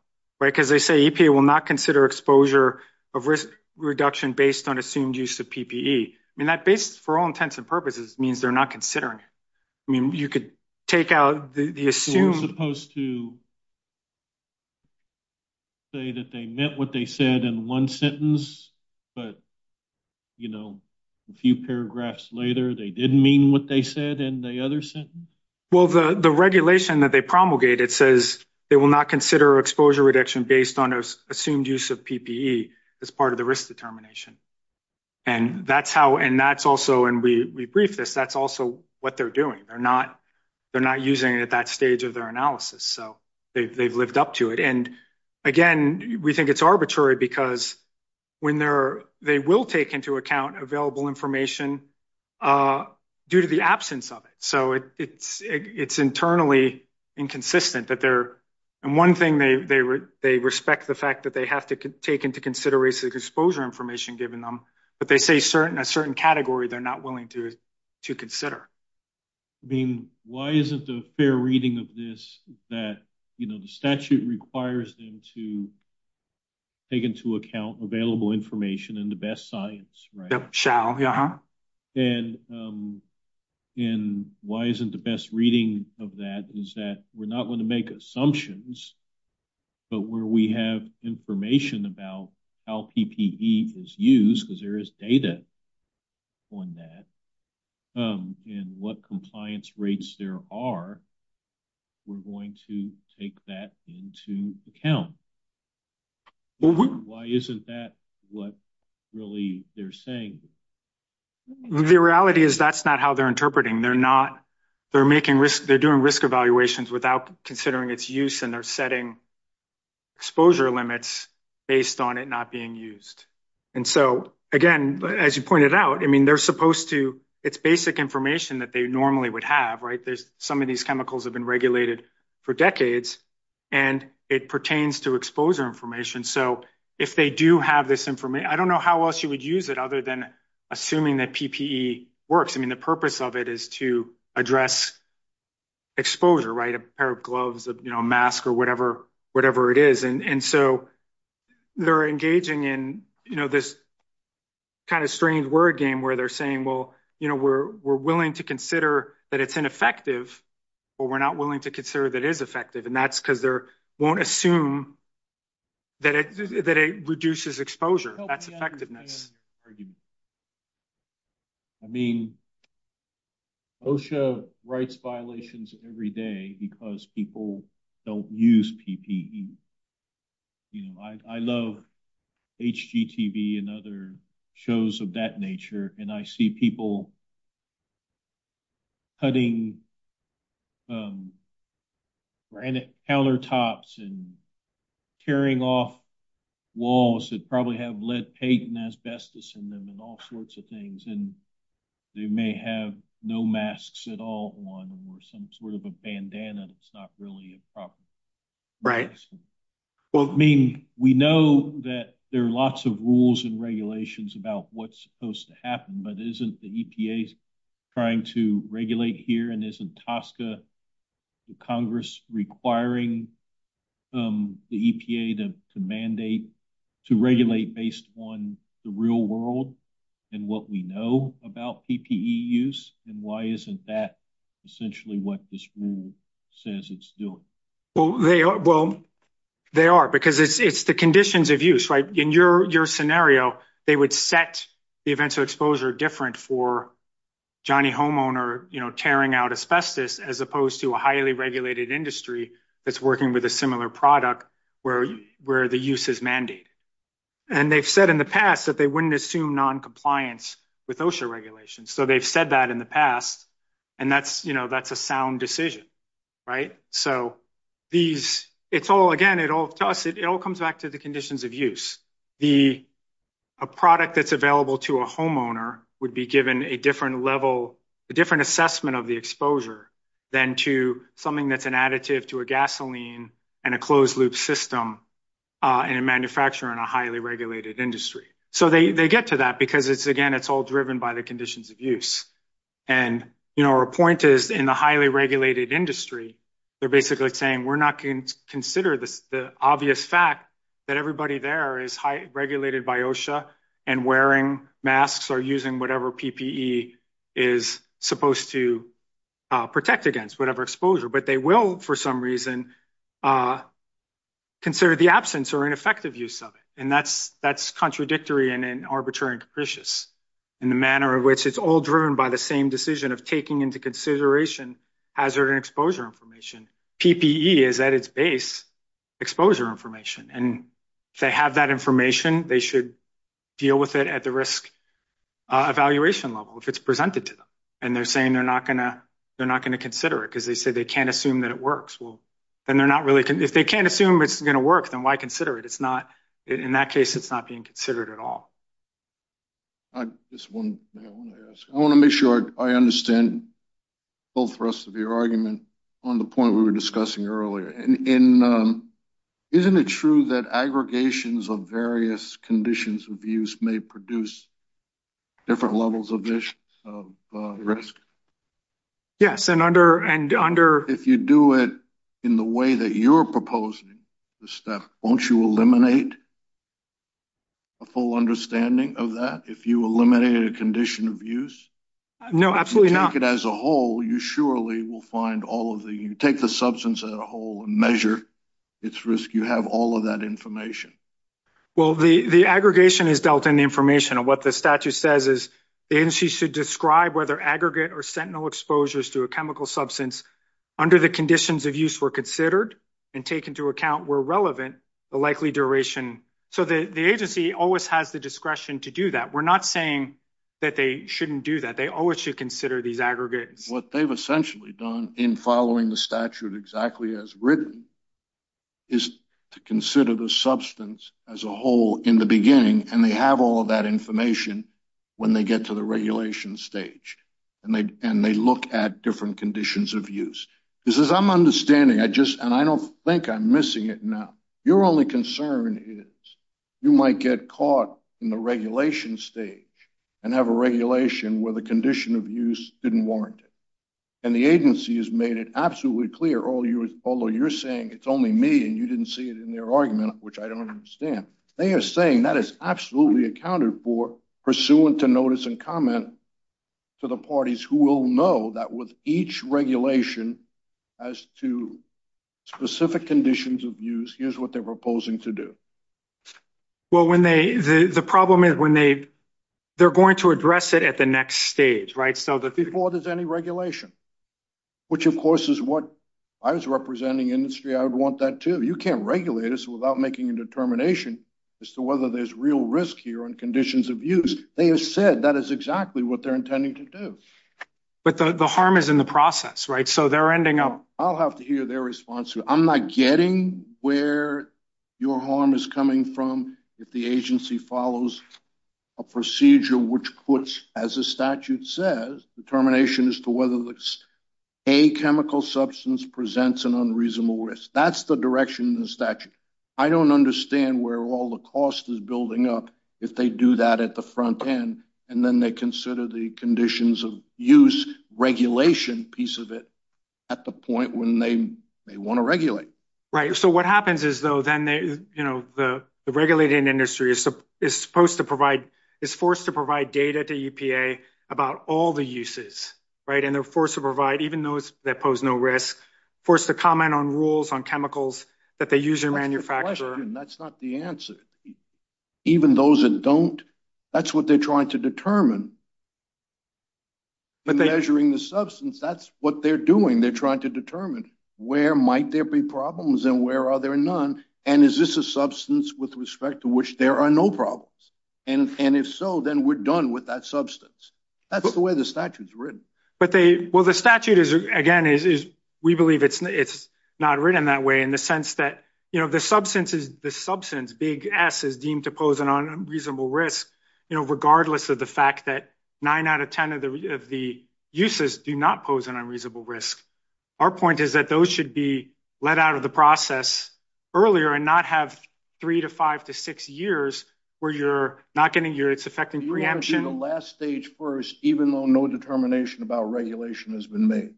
right? Because they say EPA will not consider exposure of risk reduction based on assumed use of PPE. And that, for all intents and purposes, means they're not considering it. I mean, you could take out the assumed... You're supposed to say that they meant what they said in one sentence, but, you know, a few paragraphs later, they didn't mean what they said in the other sentence? Well, the regulation that they promulgated says they will not consider exposure reduction based on assumed use of PPE as part of the risk determination. And that's how, and that's also, and we briefed this, that's also what they're doing. They're not using it at that stage of their analysis. So they've lived up to it. And again, we think it's arbitrary because when they will take into account available information due to the absence of it. So it's internally inconsistent that they're... And one thing, they respect the fact that they have to take into consideration the exposure information given them, but they say a certain category they're not willing to consider. I mean, why isn't the fair reading of this that, you know, the statute requires them to take into account available information and the best science, right? They shall. And why isn't the best reading of that is that we're not going to make assumptions, but where we have information about how PPE is used because there is data on that and what compliance rates there are, we're going to take that into account. Why isn't that what really they're saying? The reality is that's not how they're interpreting. They're not, they're making they're doing risk evaluations without considering its use and they're setting exposure limits based on it not being used. And so again, as you pointed out, I mean, they're supposed to, it's basic information that they normally would have, right? Some of these chemicals have been regulated for decades and it pertains to exposure information. So if they do have this information, I don't know how else you would use it other than assuming that PPE works. I mean, the purpose of it is to address exposure, right? A pair of gloves, you know, a mask or whatever it is. And so they're engaging in, you know, this kind of strange word game where they're saying, well, you know, we're willing to consider that it's ineffective, but we're not willing to consider that it is effective. And that's because they won't assume that it reduces exposure. That's effectiveness. I mean, OSHA writes violations every day because people don't use PPE. You know, I love HGTV and other shows of that nature. And I see people cutting countertops and tearing off walls that probably have lead paint and asbestos in them and all sorts of things. And they may have no masks at all on or some sort of a bandana that's not really a problem. Right. Well, I mean, we know that there are lots of rules and regulations about what's supposed to happen, but isn't the EPA trying to regulate here? And isn't the Congress requiring the EPA to mandate to regulate based on the real world and what we know about PPE use? And why isn't that essentially what this rule says it's doing? Well, they are. Because it's the conditions of use, right? In your scenario, they would set the events of different for Johnny homeowner, you know, tearing out asbestos as opposed to a highly regulated industry that's working with a similar product where the use is mandated. And they've said in the past that they wouldn't assume noncompliance with OSHA regulations. So they've said that in the past. And that's, you know, that's a sound decision. Right. So these, it's all again, it all comes back to the conditions of use. The product that's available to a homeowner would be given a different level, a different assessment of the exposure than to something that's an additive to a gasoline and a closed loop system in a manufacturer in a highly regulated industry. So they get to that because it's, again, it's all driven by the conditions of use. And, you know, our point is in the highly regulated industry, they're basically saying we're not going to consider the obvious fact that everybody there is highly regulated by OSHA and wearing masks or using whatever PPE is supposed to protect against whatever exposure, but they will, for some reason, consider the absence or ineffective use of it. And that's, that's contradictory and arbitrary and capricious in the manner of which it's all driven by the same decision of taking into consideration hazard and exposure information. PPE is at its base, exposure information. And if they have that information, they should deal with it at the risk evaluation level, if it's presented to them. And they're saying they're not going to, they're not going to consider it because they say they can't assume that it works. Well, then they're not really, if they can't assume it's going to work, then why consider it? It's not, in that case, it's not being considered at all. I just want to, I want to ask, I want to make sure I understand both for us of your argument on the point we were discussing earlier. And in, um, isn't it true that aggregations of various conditions of use may produce different levels of risks? Yes. And under, and under, if you do it in the way that you're proposing the step, won't you eliminate a full understanding of that? If you eliminate a condition of use? No, absolutely not. As a whole, you surely will find all of the, you take the substance as a whole and measure its risk. You have all of that information. Well, the, the aggregation is dealt in the information of what the statute says is, and she should describe whether aggregate or sentinel exposures to a chemical substance under the conditions of use were considered and taken to account were relevant, the likely duration. So the agency always has the discretion to do that. We're not saying that they shouldn't do that. They always should consider these aggregates. What they've essentially done in following the statute exactly as written is to consider the substance as a whole in the beginning. And they have all of that information when they get to the regulation stage and they, and they look at different conditions of use because as I'm standing, I just, and I don't think I'm missing it now. Your only concern is you might get caught in the regulation stage and have a regulation where the condition of use didn't warrant it. And the agency has made it absolutely clear. All you, although you're saying it's only me and you didn't see it in their argument, which I don't understand, they are saying that is absolutely accounted for pursuant to notice and comment to the parties who will know that with each regulation as to specific conditions of use, here's what they're proposing to do. Well, when they, the problem is when they, they're going to address it at the next stage, right? So that before there's any regulation, which of course is what I was representing industry. I would want that too. You can't regulate us without making a determination as to whether there's real risk here on conditions of use. They have said that is exactly what they're intending to do. But the harm is in the process, right? So they're ending up. I'll have to hear their response to it. I'm not getting where your harm is coming from if the agency follows a procedure, which puts as a statute says, determination as to whether a chemical substance presents an unreasonable risk. That's the direction in the statute. I don't understand where all the cost is building up if they do that at the front end, and then they consider the conditions of use regulation piece of it at the point when they may want to regulate. Right. So what happens is though, then they, you know, the regulating industry is supposed to provide, is forced to provide data to EPA about all the uses, right? And they're forced to provide, even though it's, they pose no risk, forced to comment on rules on chemicals that they use in manufacturing. That's not the answer. Even those that don't, that's what they're trying to determine. But measuring the substance, that's what they're doing. They're trying to determine where might there be problems and where are there none? And is this a substance with respect to which there are no problems? And if so, then we're done with that substance. That's the way the statute's written. But they, well, the statute is again, is we believe it's not written that way in the sense that, you know, the substance is the substance, big S is deemed to pose an unreasonable risk, you know, regardless of the fact that nine out of 10 of the uses do not pose an unreasonable risk. Our point is that those should be let out of the process earlier and not have three to five to six years where you're not going to hear it's affecting preemption. You want to do the last stage first, even though no determination about regulation has been made.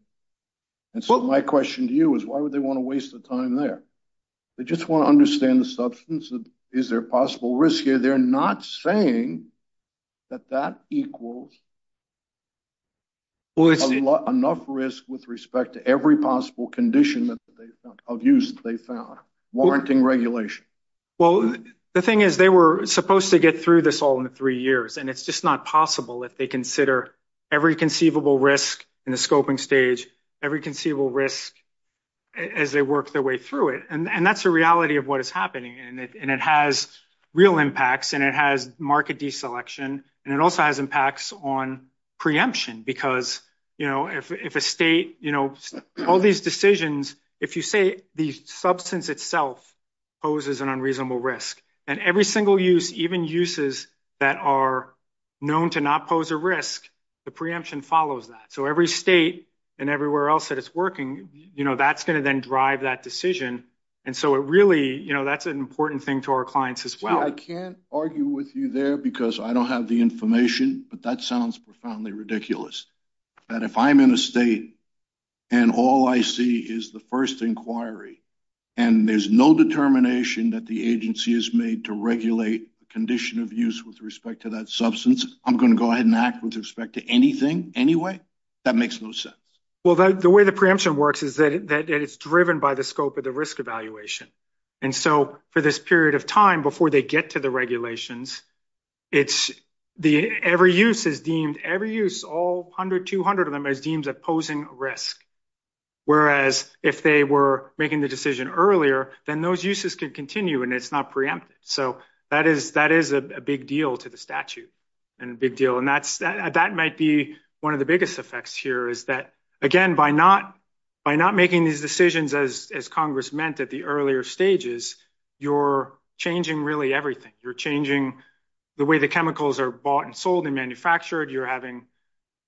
And so my question to you is why would they want to waste the time there? They just want to understand the substance. Is there a possible risk here? They're not saying that that equals enough risk with respect to every possible condition of use that they found, warranting regulation. Well, the thing is they were supposed to get through this all in three years. And it's just not possible if they consider every conceivable risk in the scoping stage, every conceivable risk as they work their way through it. And that's a reality of what is happening. And it has real impacts and it has market deselection. And it also has impacts on preemption because, you know, if a state, you know, all these decisions, if you say the substance itself poses an unreasonable risk and every single use, even uses that are known to not pose a risk, the preemption follows that. So every state and everywhere else that it's working, you know, that's going to then drive that decision. And so it really, you know, that's an important thing to our clients as well. I can't argue with you there because I don't have the information, but that sounds profoundly ridiculous that if I'm in a state and all I see is the first inquiry, and there's no determination that the agency has made to regulate the condition of use with respect to that substance, I'm going to go ahead and act with respect to anything anyway? That makes no sense. Well, the way the preemption works is that it's driven by the scope of the risk evaluation. And so for this period of time, before they get to the regulations, it's the, every use is deemed, every use, all 100, 200 of them is deemed opposing risk. Whereas if they were making the decision earlier, then those uses could continue and it's not preempted. So that is a big deal to the statute and a big deal. And that might be one of the biggest effects here is that, again, by not making these decisions as Congress meant at the earlier stages, you're changing really everything. You're changing the way the chemicals are bought and sold and manufactured. You're having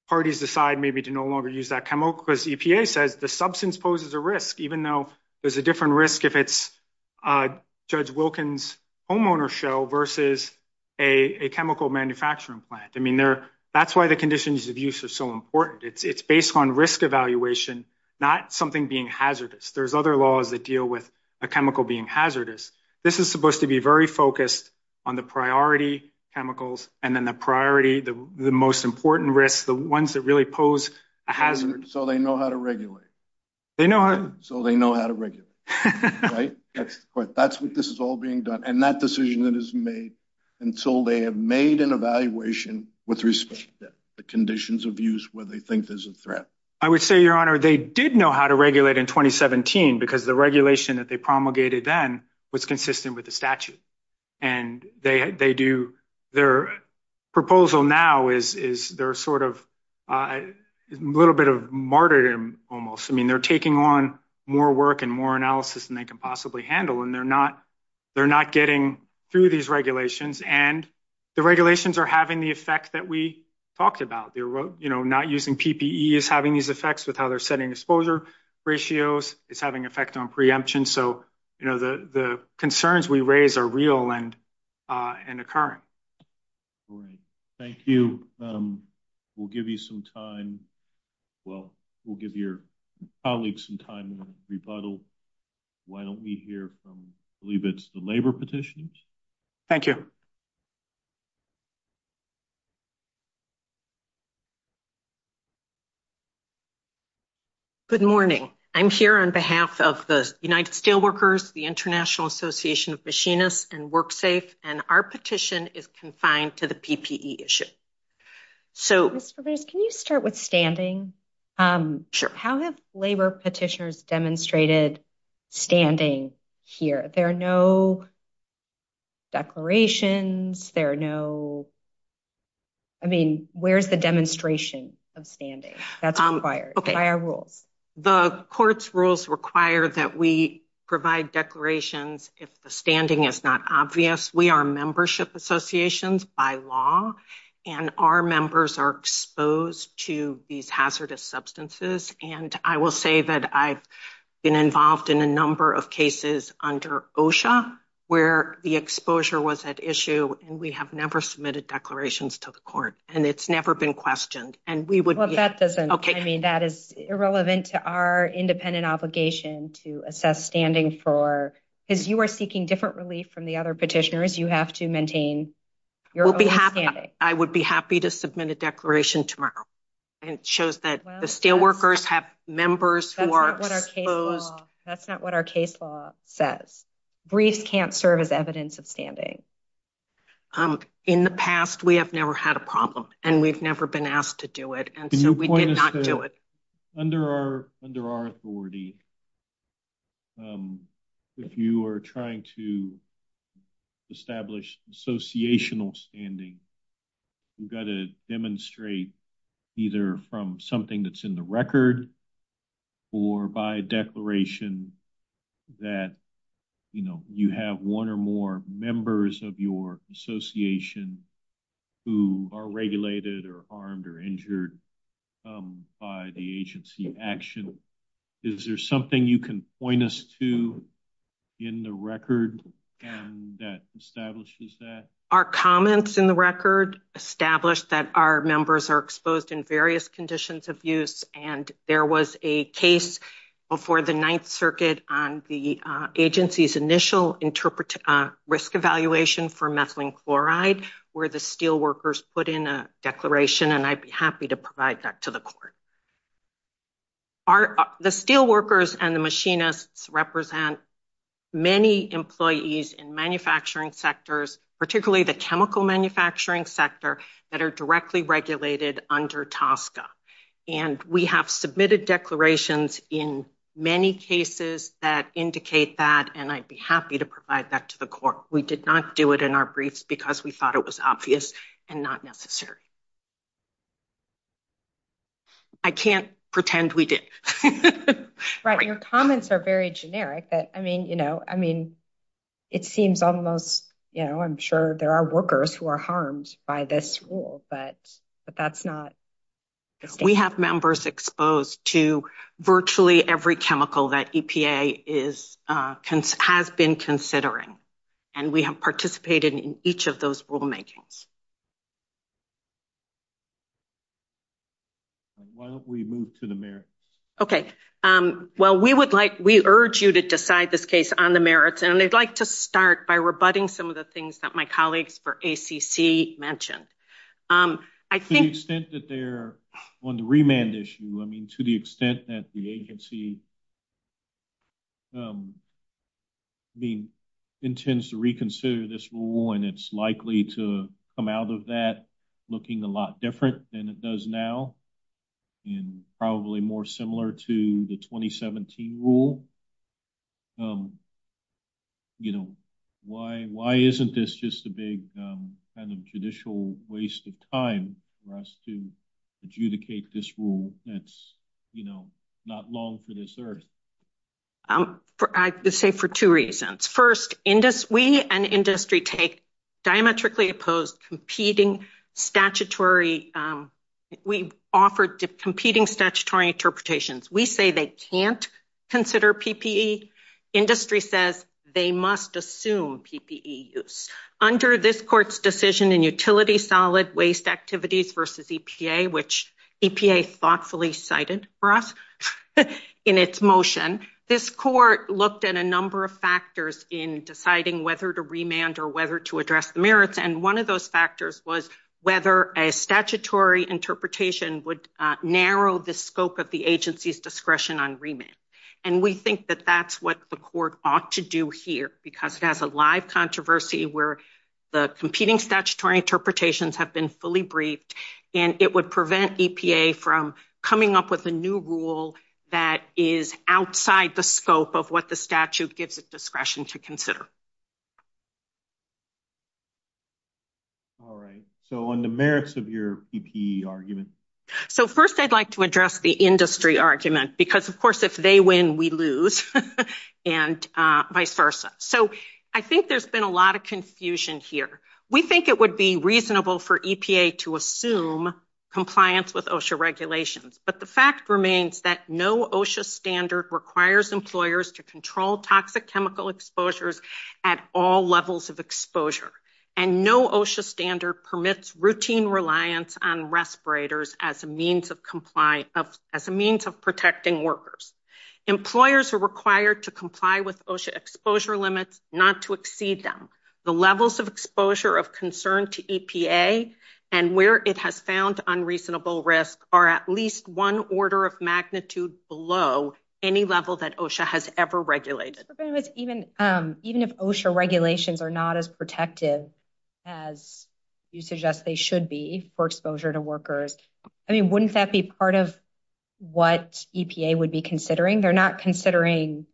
parties decide maybe to no longer use because EPA says the substance poses a risk, even though there's a different risk if it's Judge Wilkins' homeowner show versus a chemical manufacturing plant. I mean, they're, that's why the conditions of use are so important. It's based on risk evaluation, not something being hazardous. There's other laws that deal with a chemical being hazardous. This is supposed to be very focused on the priority chemicals. And then the priority, the most important risks, the ones that really pose a hazard. So they know how to regulate. So they know how to regulate. That's what this is all being done. And that decision is made until they have made an evaluation with respect to the conditions of use where they think there's a threat. I would say, Your Honor, they did know how to regulate in 2017 because the regulation that they promulgated then was consistent with statute. And they do, their proposal now is they're sort of a little bit of martyrdom almost. I mean, they're taking on more work and more analysis than they can possibly handle. And they're not getting through these regulations and the regulations are having the effect that we talked about. Not using PPE is having these effects with how they're setting exposure ratios. It's having an effect on preemption. So the concerns we raise are real and occurring. Thank you. We'll give you some time. Well, we'll give your colleagues some time to rebuttal. Why don't we hear from, I believe it's the labor petitioners. Thank you. Good morning. I'm here on behalf of the United Steelworkers, the International Association of Machinists and WorkSafe, and our petition is confined to the PPE issue. So can you start with standing? How have labor petitioners demonstrated standing here? There are no declarations. There are no, I mean, where's the demonstration of standing? That's required. The court's rules require that we provide declarations if the standing is not obvious. We are membership associations by law and our members are exposed to these hazardous substances. And I will say that I've been involved in a number of cases under OSHA where the exposure was at issue and we have never submitted declarations to the court. And it's never been questioned. And we would, I mean, that is irrelevant to our independent obligation to assess standing for, because you are seeking different relief from the other petitioners. You have to maintain your own standing. I would be happy to submit a declaration tomorrow. And it shows that the steelworkers have members who are exposed. That's not what our case law says. Briefs can't serve as evidence of standing. In the past, we have never had a problem and we've never been asked to do it. And so we did not do it. Under our authority, if you are trying to establish associational standing, you've got to demonstrate either from something that's in the record or by declaration that, you know, you have one or more members of your association who are regulated or harmed or injured by the agency action. Is there some something you can point us to in the record that establishes that? Our comments in the record establish that our members are exposed in various conditions of use. And there was a case before the Ninth Circuit on the agency's initial risk evaluation for methylene chloride where the steelworkers put in a declaration. And I'd be happy to provide that to the court. The steelworkers and the machinists represent many employees in manufacturing sectors, particularly the chemical manufacturing sector, that are directly regulated under TSCA. And we have submitted declarations in many cases that indicate that and I'd be happy to provide that to the court. We did not do it in our briefs because we thought it was obvious and not necessary. I can't pretend we did. Right. Your comments are very generic. I mean, you know, I mean, it seems almost, you know, I'm sure there are workers who are harmed by this rule, but that's not... We have members exposed to virtually every chemical that EPA has been considering. And we have participated in each of those rulemakings. Why don't we move to the merits? Okay. Well, we would like, we urge you to decide this case on the merits. And I'd like to start by rebutting some of the things that my colleagues for ACC mentioned. I think... To the extent that they're on the remand issue, I mean, to the extent that the agency, I mean, intends to reconsider this rule and it's likely to, you know, come out of that looking a lot different than it does now and probably more similar to the 2017 rule. You know, why isn't this just a big kind of judicial waste of time for us to adjudicate this rule that's, you know, not long for this earth? I would say for two reasons. First, we and industry take diametrically opposed competing statutory... We offer competing statutory interpretations. We say they can't consider PPE. Industry says they must assume PPE use. Under this court's decision in utility solid waste activities versus EPA, which EPA thoughtfully cited for us in its motion, this court looked at a number of factors in deciding whether to remand or whether to address the merits. And one of those factors was whether a statutory interpretation would narrow the scope of the agency's discretion on remit. And we think that that's what the court ought to do here, because it has a live controversy where the competing statutory interpretations have been fully briefed and it would prevent EPA from coming up with a new rule that is outside the scope of what the statute gives its discretion to consider. All right. So on the merits of your PPE argument. So first I'd like to address the industry argument, because of course, if they win, we lose and vice versa. So I think there's been a lot of confusion here. We think it would be reasonable for EPA to assume compliance with OSHA regulations. But the fact remains that no OSHA standard requires employers to control toxic chemical exposures at all levels of exposure. And no OSHA standard permits routine reliance on respirators as a means of protecting workers. Employers are required to comply with OSHA exposure limits, not to exceed them. The levels of exposure of concern to EPA and where it has found unreasonable risk are at least one order of magnitude below any level that OSHA has ever regulated. Even if OSHA regulations are not as protective as you suggest they should be for exposure to workers, I mean, wouldn't that be part of what EPA would be considering? They're not considering,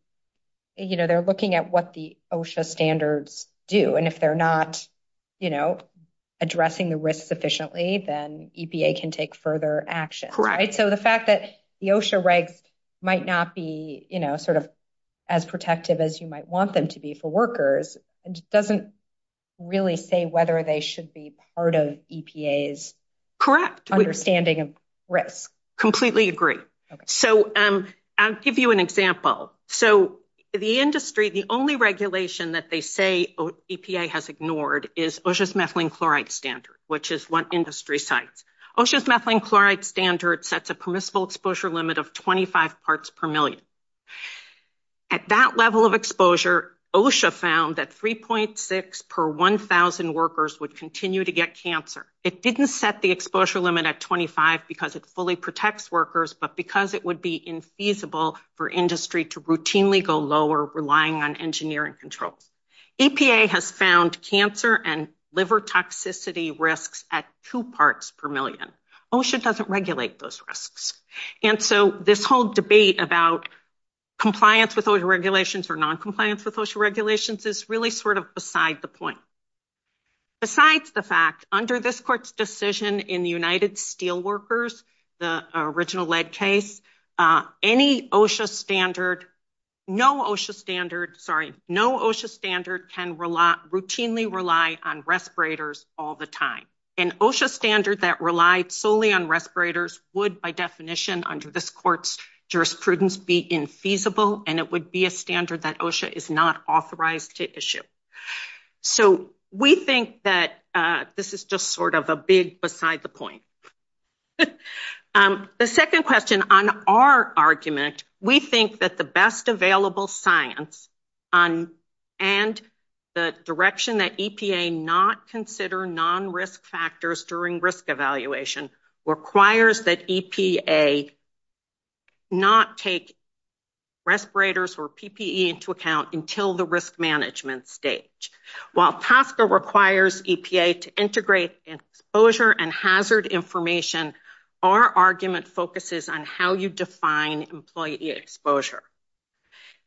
you know, they're looking at what the OSHA standards do. And if they're not, you know, addressing the risk sufficiently, then EPA can take further action, right? So the fact that the OSHA regs might not be, you know, sort of as protective as you might want them to be for workers doesn't really say whether they should be part of EPA's understanding of risk. Correct. Completely agree. So I'll give you an example. So the industry, the only regulation that they say EPA has ignored is OSHA's methylene chloride standard, which is what industry sites. OSHA's methylene chloride standard sets a permissible exposure limit of 25 parts per million. At that level of exposure, OSHA found that 3.6 per 1,000 workers would continue to get cancer. It didn't set the exposure limit at 25 because it fully protects workers, but because it would be infeasible for industry to routinely go lower relying on engineering control. EPA has found cancer and liver toxicity risks at two parts per million. OSHA doesn't regulate those risks. And so this whole debate about compliance with OSHA regulations or compliance with OSHA regulations is really sort of beside the point. Besides the fact under this court's decision in the United Steelworkers, the original lead case, any OSHA standard, no OSHA standard, sorry, no OSHA standard can routinely rely on respirators all the time. An OSHA standard that relied solely on respirators would by definition under this court's jurisprudence be infeasible and it would be a standard that OSHA is not authorized to issue. So we think that this is just sort of a big beside the point. The second question on our argument, we think that the best available science and the direction that EPA not consider non-risk factors during risk evaluation requires that EPA not take respirators or PPE into account until the risk management stage. While PASCA requires EPA to integrate exposure and hazard information, our argument focuses on how you define employee exposure.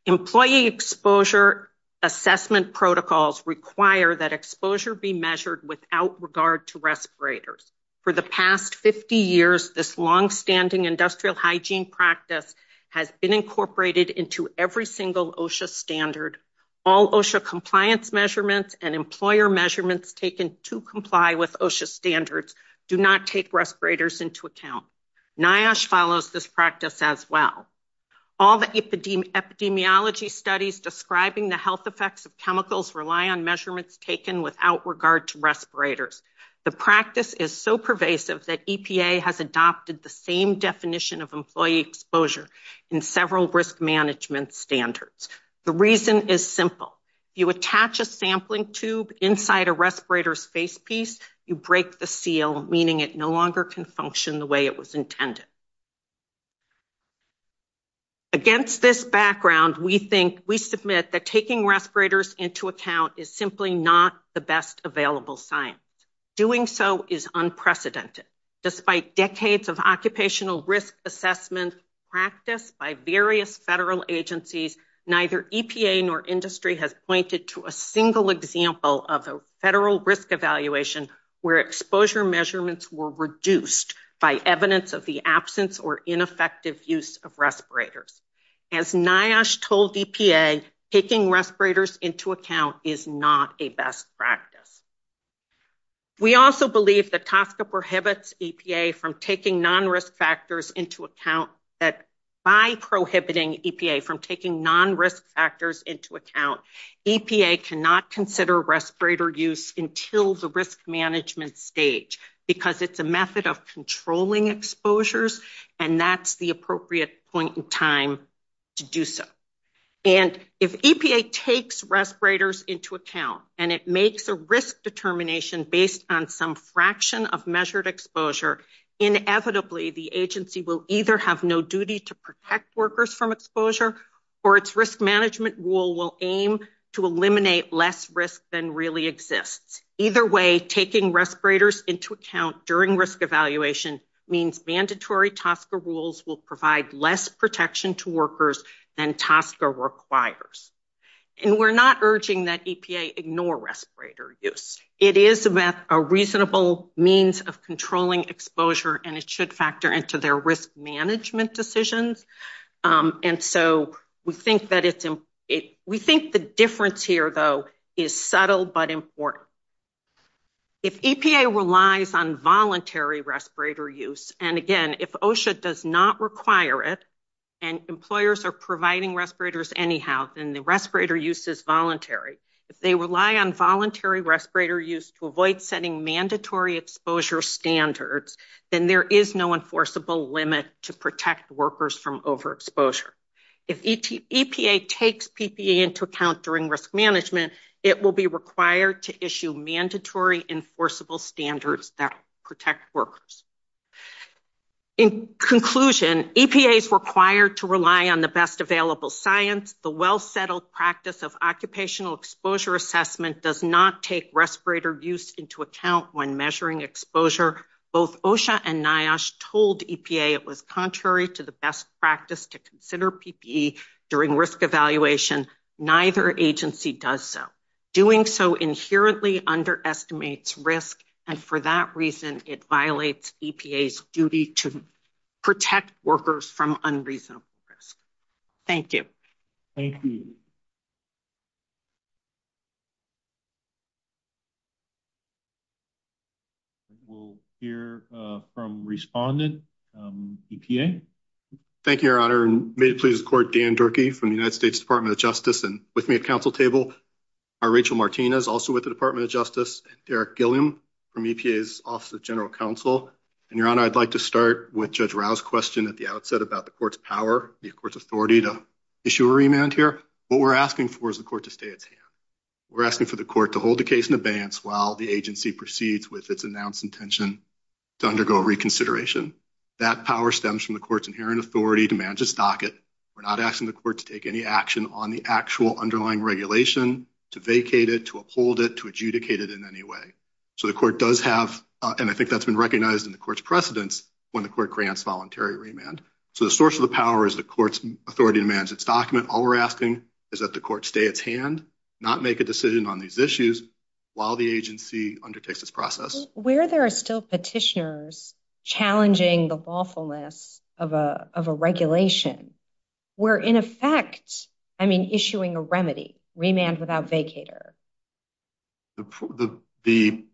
Employee exposure assessment protocols require that exposure be measured without regard to respirators. For the past 50 years, this long-standing industrial hygiene practice has been incorporated into every single OSHA standard. All OSHA compliance measurements and employer measurements taken to comply with OSHA standards do not take respirators into account. NIOSH follows this practice as well. All the epidemiology studies describing the health effects of chemicals rely on measurements taken without regard to respirators. The practice is so pervasive that EPA has adopted the same definition of employee exposure in several risk management standards. The reason is simple. You attach a sampling tube inside a respirator's face piece, you break the seal, meaning it no longer can function the way it was intended. Against this background, we submit that taking respirators into account is simply not the best available science. Doing so is unprecedented. Despite decades of occupational risk assessment practice by various federal agencies, neither EPA nor industry has pointed to a single example of a federal risk evaluation where exposure measurements were reduced by evidence of the absence or ineffective use of respirators. As NIOSH told EPA, taking respirators into account is not a best practice. We also believe that TASCA prohibits EPA from taking non-risk factors into account, that by prohibiting EPA from taking non-risk factors into account, EPA cannot consider respirator use until the risk management stage, because it's a method of controlling exposures, and that's the appropriate point in time to do so. And if EPA takes respirators into account, and it makes a risk determination based on some fraction of measured exposure, inevitably the agency will either have no duty to protect workers from exposure, or its risk management rule will aim to eliminate less risk than really exists. Either way, taking respirators into account during risk evaluation means mandatory TASCA rules will provide less protection to workers than TASCA requires. And we're not urging that EPA ignore respirator use. It is a reasonable means of controlling exposure, and it should factor into their risk management decisions. And so we think the difference here, though, is subtle but important. If EPA relies on voluntary respirator use, and again, if OSHA does not require it, and employers are providing respirators anyhow, then the respirator use is voluntary. If they rely on voluntary respirator use to avoid setting mandatory exposure standards, then there is no enforceable limit to protect workers from overexposure. If EPA takes PPE into account during risk management, it will be required to issue mandatory enforceable standards that protect workers. In conclusion, EPA is required to rely on the best available science. The well-settled practice of occupational exposure assessment does not take respirator use into account when measuring exposure. Both OSHA and NIOSH told EPA it was contrary to the best practice to consider PPE during risk evaluation. Neither agency does so. Doing so inherently underestimates risk, and for that reason, it violates EPA's duty to protect workers from unreasonable risk. Thank you. Thank you. We'll hear from respondent, EPA. Thank you, Your Honor, and may it please the Court, Dan Durkee from the United States Department of Justice, and with me at council table are Rachel Martinez, also with the Department of Justice, and Eric Gilliam from EPA's Office of General Counsel. And, Your Honor, I'd like to start with Judge Rau's question at the outset about the Court's power, the Court's authority to issue a remand here. What we're asking for is the Court to We're asking for the Court to hold the case in abeyance while the agency proceeds with its announced intention to undergo reconsideration. That power stems from the Court's inherent authority to manage its docket. We're not asking the Court to take any action on the actual underlying regulation, to vacate it, to uphold it, to adjudicate it in any way. So the Court does have, and I think that's been recognized in the Court's precedence, when the Court grants voluntary remand. So the source of the power is the Court's authority to manage its document. All we're asking is that the Court stay its hand, not make a decision on these issues while the agency undertakes its process. Where there are still petitioners challenging the lawfulness of a regulation, we're in effect, I mean, issuing a remedy, remand without vacater. The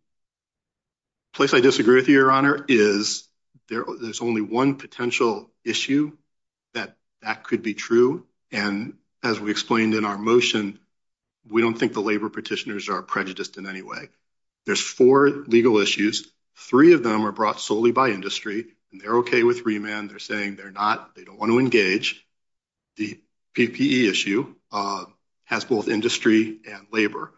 place I disagree with you, Your Honor, is there's only one potential issue that could be true. And as we explained in our motion, we don't think the labor petitioners are prejudiced in any way. There's four legal issues. Three of them are brought solely by industry, and they're okay with remand. They're saying they're not, they don't want to engage. The PPE issue has both industry and labor.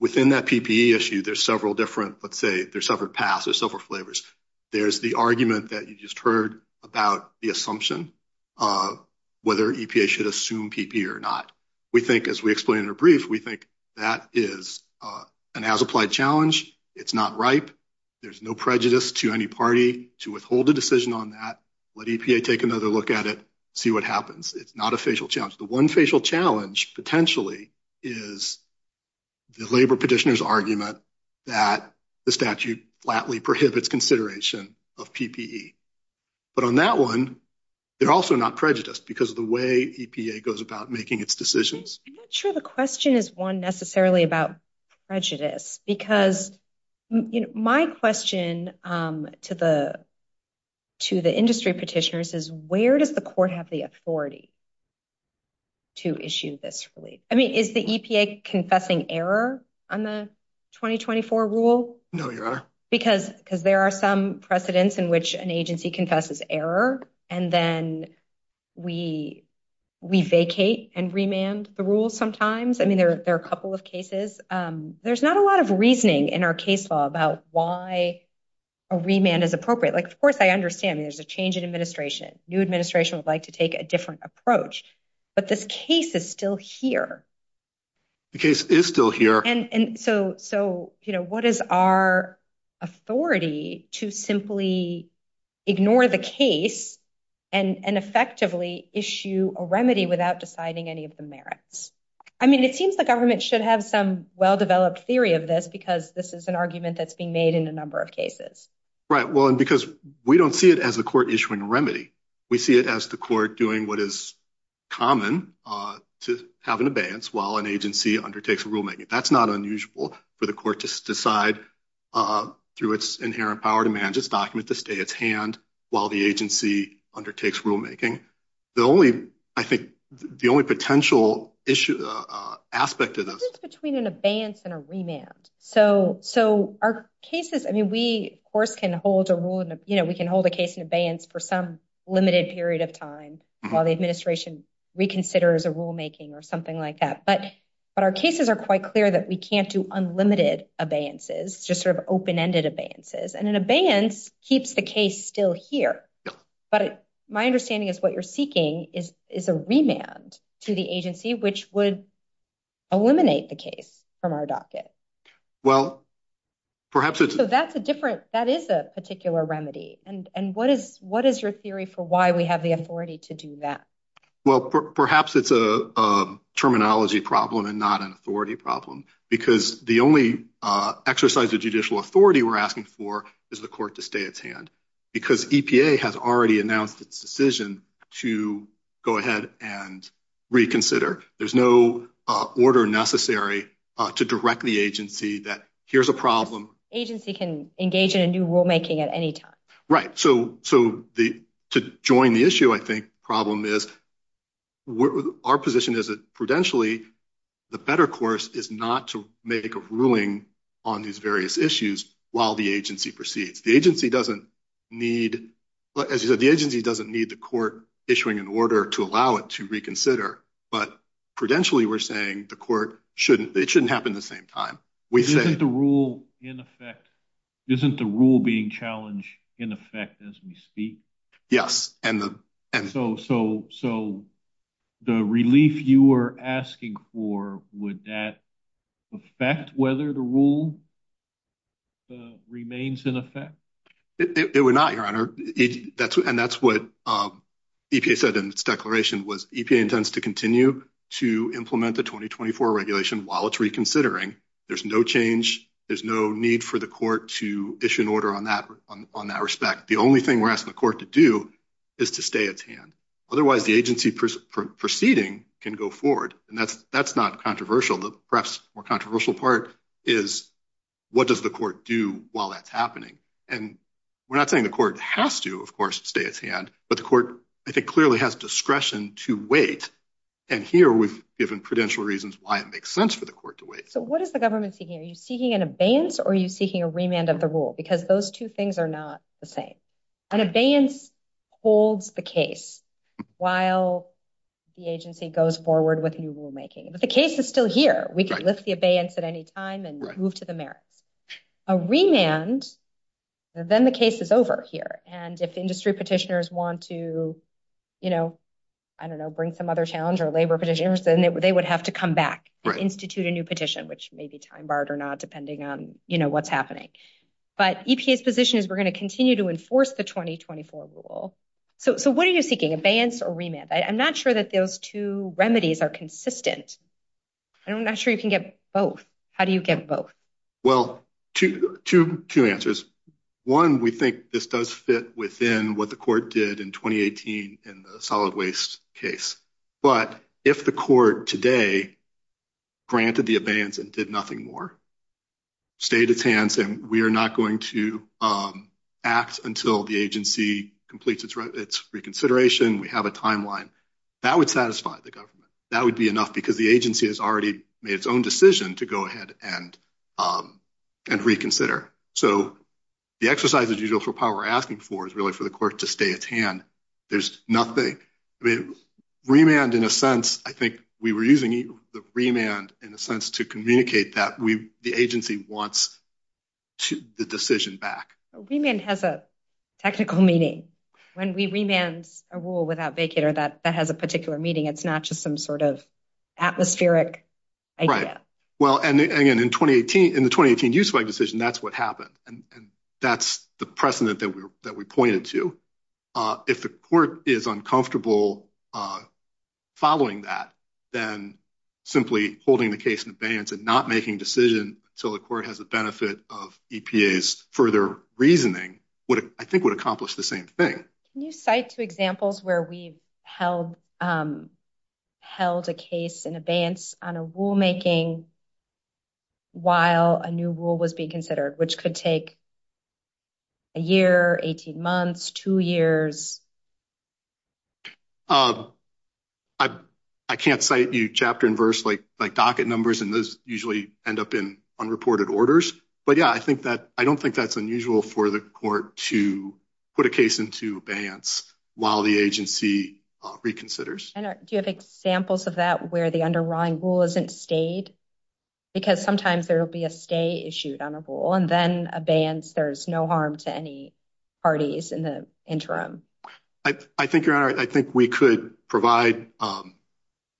Within that PPE issue, there's several different, let's say, there's several paths, there's several flavors. There's the argument that you just heard about the assumption of whether EPA should assume PPE or not. We think, as we explained in a brief, we think that is an as-applied challenge. It's not ripe. There's no prejudice to any party to withhold a decision on that, let EPA take another look at it, see what happens. It's not a facial challenge. The one facial challenge potentially is the labor petitioner's argument that the statute flatly prohibits consideration of PPE. But on that one, they're also not prejudiced because of the way EPA goes about making its decisions. I'm not sure the question is one necessarily about prejudice because my question to the industry petitioners is where does the court have the authority to issue this relief? I mean, the EPA confessing error on the 2024 rule? No, your honor. Because there are some precedents in which an agency confesses error and then we vacate and remand the rule sometimes. I mean, there are a couple of cases. There's not a lot of reasoning in our case law about why a remand is appropriate. Of course, I understand there's a change in administration. New administration would like to take a different approach, but this case is still here. The case is still here. So what is our authority to simply ignore the case and effectively issue a remedy without deciding any of the merits? I mean, it seems the government should have some well-developed theory of this because this is an argument that's being made in a number of cases. Right. Well, and because we don't see it as a court issuing remedy. We see it as the court doing what is common to have an abeyance while an agency undertakes rulemaking. That's not unusual for the court to decide through its inherent power to manage this document to stay at hand while the agency undertakes rulemaking. The only, I think, the only potential issue, aspect of this- It's between an abeyance and a remand. So our cases, I mean, we of course can hold a case in for some limited period of time while the administration reconsiders a rulemaking or something like that. But our cases are quite clear that we can't do unlimited abeyances, just sort of open-ended abeyances. And an abeyance keeps the case still here. But my understanding is what you're seeking is a remand to the agency, which would eliminate the case from our docket. Well, perhaps it's- So that's a different, that is a particular remedy. And what is your theory for why we have the authority to do that? Well, perhaps it's a terminology problem and not an authority problem because the only exercise of judicial authority we're asking for is the court to stay at hand because EPA has already announced its decision to go ahead and reconsider. There's no order necessary to direct the agency that here's a problem. Agency can engage in a new rulemaking at any time. Right. So to join the issue, I think, problem is, our position is that prudentially, the better course is not to make a ruling on these various issues while the agency proceeds. The agency doesn't need, as you said, the agency doesn't need the court issuing an order to allow it to reconsider. But prudentially, we're saying the court shouldn't, it shouldn't happen the same time. We say- Isn't the rule in effect, isn't the rule being challenged in effect as we speak? Yes. And the- So the relief you are asking for, would that affect whether the rule remains in effect? It would not, Your Honor. And that's what EPA said in its declaration was EPA intends to continue to implement the 2024 regulation while it's reconsidering. There's no change. There's no need for the court to issue an order on that respect. The only thing we're asking the court to do is to stay at hand. Otherwise, the agency proceeding can go forward. And that's not controversial. The perhaps more controversial part is what does the court do while that's happening? And we're not saying the court has to, of course, stay at hand. But the court, I think, clearly has discretion to wait. And here, we've given prudential reasons why it makes sense for the court to wait. So what is the government seeking? Are you seeking an abeyance or are you seeking a remand of the rule? Because those two things are not the same. An abeyance holds the case while the agency goes forward with new rulemaking. But the case is still here. We can lift the abeyance at any time and move to the merits. A remand, then the case is over here. And if industry petitioners want to, you know, I don't know, bring some other challenge or labor petitioners, then they would have to come back or institute a new petition, which may be time barred or not, depending on what's happening. But EPA's position is we're going to continue to enforce the 2024 rule. So what are you seeking, abeyance or remand? I'm not sure that those two remedies are consistent. I'm not sure you can get both. How do you get both? Well, two answers. One, we think this does fit within what the court did in 2018 in the solid waste case. But if the court today granted the abeyance and did nothing more, stayed its hands and we are not going to act until the agency completes its reconsideration, we have a timeline, that would satisfy the government. That would be enough because the agency has already made its own decision to go ahead and reconsider. So the exercise, as usual, for power asking for is really for the court to stay its hand. There's nothing. Remand, in a sense, I think we were using the remand in a sense to communicate that the agency wants the decision back. Remand has a technical meaning. When we remand a rule without vacator that has a particular meaning, it's not just some sort of atmospheric idea. Well, and again, in the 2018 use of abeyance decision, that's what happened. And that's the precedent that we pointed to. If the court is uncomfortable following that, then simply holding the case in abeyance and not making decisions until the court has the benefit of EPA's further reasoning, I think would accomplish the same thing. Can you cite two examples where we've held a case in abeyance on a rulemaking while a new rule was being considered, which could take a year, 18 months, two years? I can't cite you chapter and verse like docket numbers and those usually end up in unreported Yeah, I don't think that's unusual for the court to put a case into abeyance while the agency reconsiders. Do you have examples of that where the underlying rule isn't stayed? Because sometimes there will be a stay issued on a rule and then abeyance, there's no harm to any parties in the interim. I think we could provide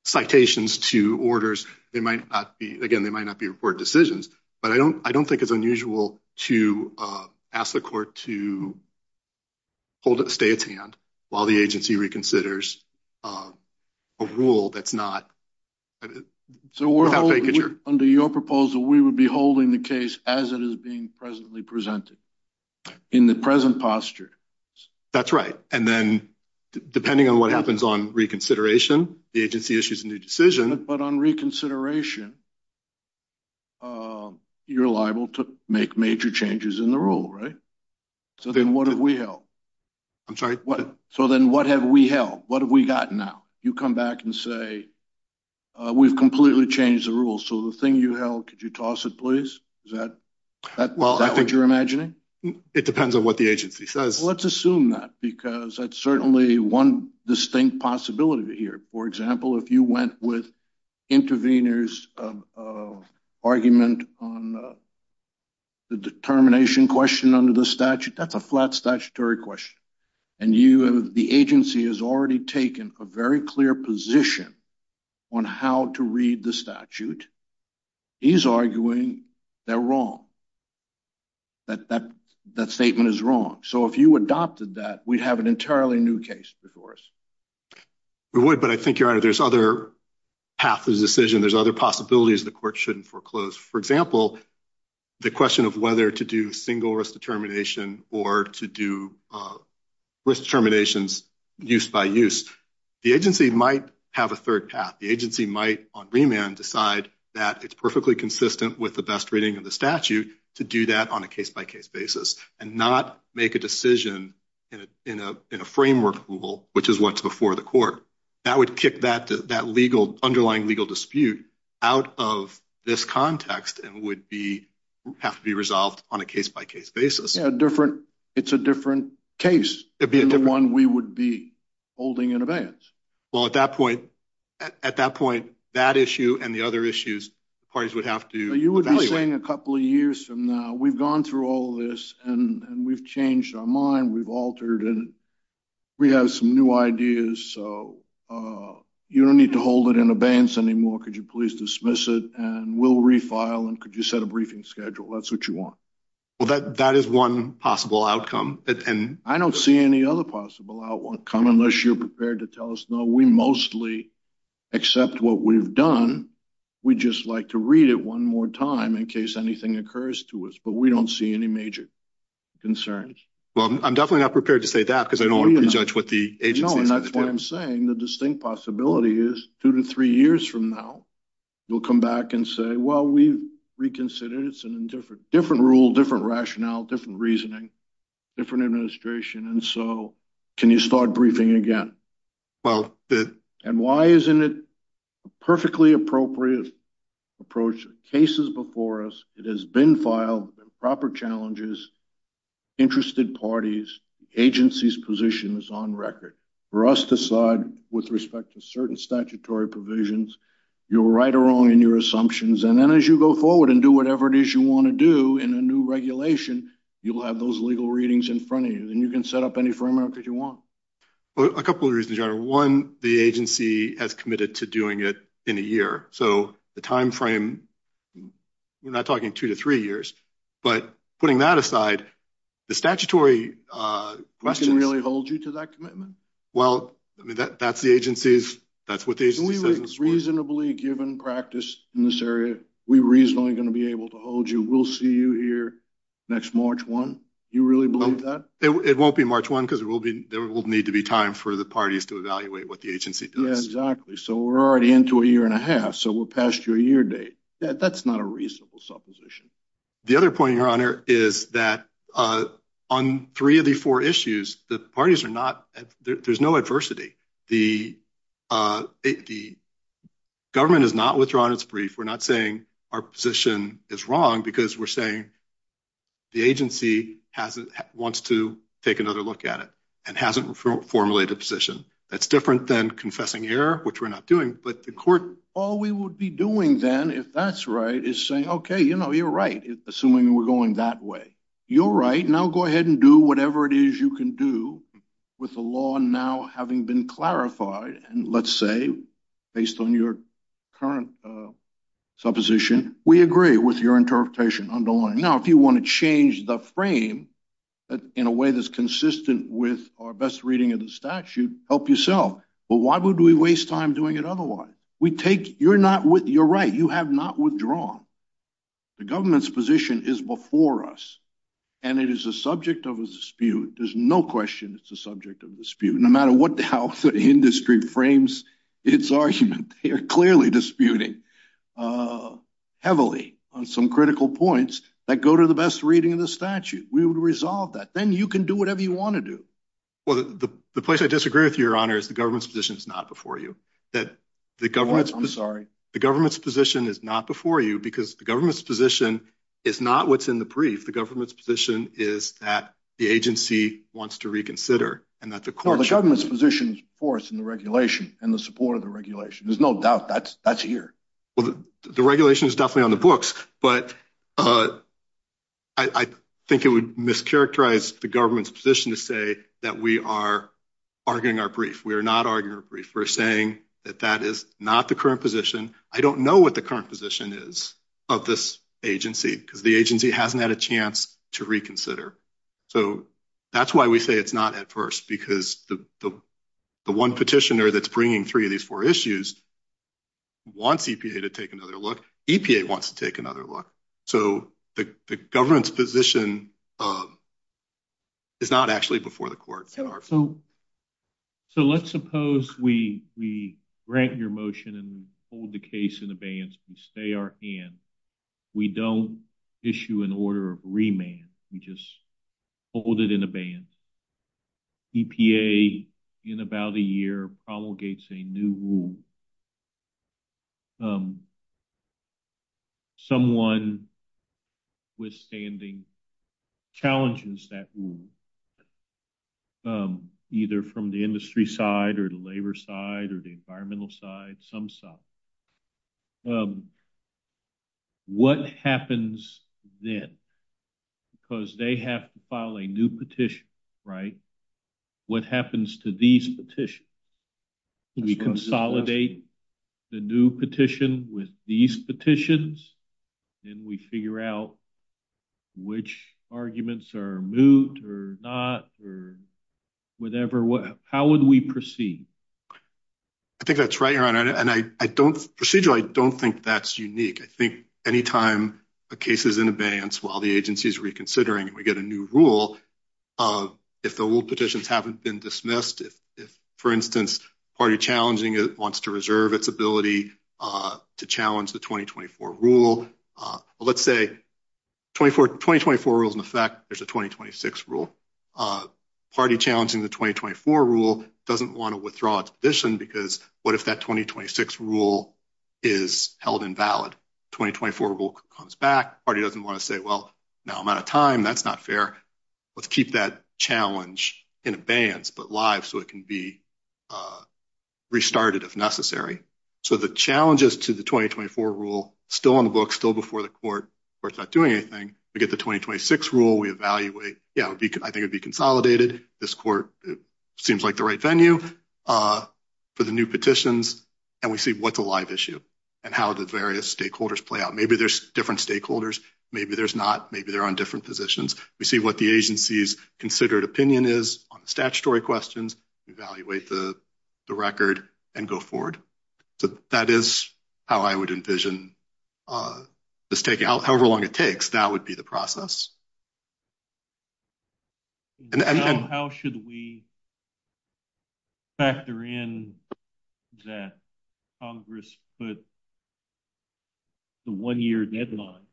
citations to orders. They might not be, again, I don't think it's unusual to ask the court to hold a stay at hand while the agency reconsiders a rule that's not... So under your proposal, we would be holding the case as it is being presently presented in the present posture. That's right. And then depending on what happens on reconsideration, the agency issues a new decision. But on reconsideration, you're liable to make major changes in the rule, right? So then what have we held? I'm sorry, what? So then what have we held? What have we got now? You come back and say, we've completely changed the rule. So the thing you held, could you toss it, please? Is that what you're imagining? It depends on what the agency says. Let's assume that because that's certainly one distinct possibility here. For example, if you went with intervenors of argument on the determination question under the statute, that's a flat statutory question. And the agency has already taken a very clear position on how to read the statute. He's arguing they're wrong, that that statement is wrong. So if you adopted that, we'd have an entirely new case before us. We would, but I think your honor, there's other path to the decision. There's other possibilities the court shouldn't foreclose. For example, the question of whether to do single risk determination or to do risk determinations use by use. The agency might have a third path. The agency might on remand decide that it's perfectly consistent with the best reading of the statute to do that on a case by case basis and not make a decision in a framework rule, which is what's before the court. That would kick that underlying legal dispute out of this context and would have to be resolved on a case by case basis. It's a different case than the one we would be holding in advance. Well, at that point, that issue and the other issues parties would have to- You would be saying a couple of years from now, we've gone through all of this and we've changed our mind. We've altered it. We have some new ideas, so you don't need to hold it in advance anymore. Could you please dismiss it and we'll refile and could you set a briefing schedule? That's what you want. Well, that is one possible outcome and- I don't see any other possible outcome unless you're prepared to tell us no. We mostly accept what we've done. We just like to read it one more time in case anything occurs to us, but we don't see any major concerns. Well, I'm definitely not prepared to say that because I don't want to prejudge what the agency- No, and that's what I'm saying. The distinct possibility is two to three years from now, we'll come back and say, well, we reconsidered it. It's a different rule, different rationale, different reasoning, different administration, and so can you start briefing again? Well- And why isn't it a perfectly appropriate approach? The case is before us. It has been filed, proper challenges, interested parties, agency's position is on record. For us to slide with respect to certain statutory provisions, you're right or wrong in your assumptions. And then as you go forward and do whatever it is you want to do in a new regulation, you'll have those legal readings in front of you and you can set up any framework that you want. Well, a couple of reasons here. One, the agency has committed to doing it in a year. So the timeframe, we're not talking two to three years, but putting that aside, the statutory- That can really hold you to that commitment? Well, I mean, that's the agency's, that's what the agency- Reasonably given practice in this area, we're reasonably going to be able to hold you. We'll hear next March 1. You really believe that? It won't be March 1 because there will need to be time for the parties to evaluate what the agency does. Yeah, exactly. So we're already into a year and a half. So we'll pass your year date. That's not a reasonable supposition. The other point, Your Honor, is that on three of the four issues, the parties are not, there's no adversity. The government has not withdrawn its brief. We're not saying our position is wrong because we're saying the agency wants to take another look at it and hasn't formulated a position. That's different than confessing a year, which we're not doing, but the court- All we would be doing then, if that's right, is saying, okay, you're right, assuming we're going that way. You're right. Now go ahead and do whatever it is you can do with the law now having been clarified. And let's say, based on your current supposition, we agree with your interpretation underlying. Now, if you want to change the frame in a way that's consistent with our best reading of the statute, help yourself. But why would we waste time doing it otherwise? You're right. You have not withdrawn. The government's position is before us and it is a subject of dispute. There's no question it's a subject of dispute. No matter what the industry frames its argument, they're clearly disputing heavily on some critical points that go to the best reading of the statute. We would resolve that. Then you can do whatever you want to do. Well, the place I disagree with you, Your Honor, is the government's position is not before you. I'm sorry. The government's position is not before you because the government's position is not what's in the brief. The government's position is that the agency wants to reconsider. No, the government's position is before us in the regulation and the support of the regulation. There's no doubt that's here. Well, the regulation is definitely on the books, but I think it would mischaracterize the government's position to say that we are arguing our brief. We are not arguing our brief. We're saying that that is not the current position. I don't know what the position is of this agency because the agency hasn't had a chance to reconsider. That's why we say it's not at first because the one petitioner that's bringing three of these four issues wants EPA to take another look. EPA wants to take another look. The government's position is not actually before the court. Let's suppose we grant your motion and hold the case in abeyance and stay our hand. We don't issue an order of remand. We just hold it in abeyance. EPA, in about a year, promulgates a new rule. Someone withstanding challenges that rule, either from the industry side or the labor side or the environmental side, some side. What happens then? Because they have to file a new petition, right? What happens to these petitions? We consolidate the new petition with these petitions, and we figure out which arguments are moved or not or whatever. How would we proceed? I think that's right, Your Honor, and I don't think that's unique. I think any time a case is in abeyance while the agency is reconsidering, we get a new rule. If the old petitions haven't been dismissed, for instance, a party challenging it wants to reserve its ability to challenge the 2024 rule. Let's say 2024 rules in effect, there's a 2026 rule. A party challenging the 2024 rule doesn't want to withdraw its position because what if that 2026 rule is held invalid? 2024 rule comes back. Party doesn't want to say, well, now I'm out of time. That's not fair. Let's keep that challenge in abeyance but live so it can be restarted if necessary. The challenges to the 2024 rule still on the book, still before the court where it's not doing anything. We get the 2026 rule. We evaluate. I think it would be consolidated. This court seems like the right venue for the new petitions, and we see what's a live issue and how the various stakeholders play out. Maybe there's different stakeholders. Maybe there's not. Maybe they're on different positions. We see what the agency's considered opinion is on the statutory questions. We evaluate the record and go forward. That is how I would envision this taking however long it takes. That would be the process. How should we factor in that Congress put the one-year deadline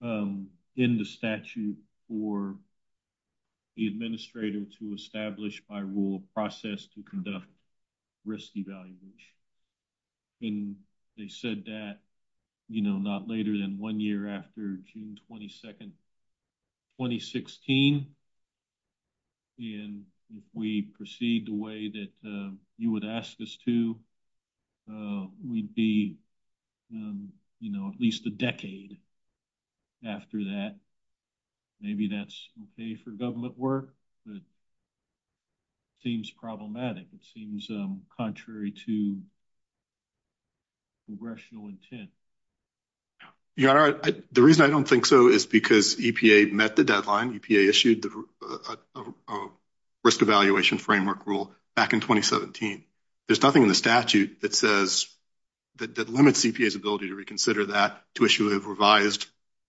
in the statute for the administrator to establish by rule process to conduct risk evaluation? And they said that, you know, not later than one year after June 22, 2016. And if we proceed the way that you would ask us to, we'd be, you know, at least a decade after that. Maybe that's okay for government work, but it seems problematic. It seems contrary to congressional intent. The reason I don't think so is because EPA met the deadline. EPA issued the risk evaluation framework rule back in 2017. There's nothing in the statute that says, that limits EPA's ability to reconsider that to issue a revised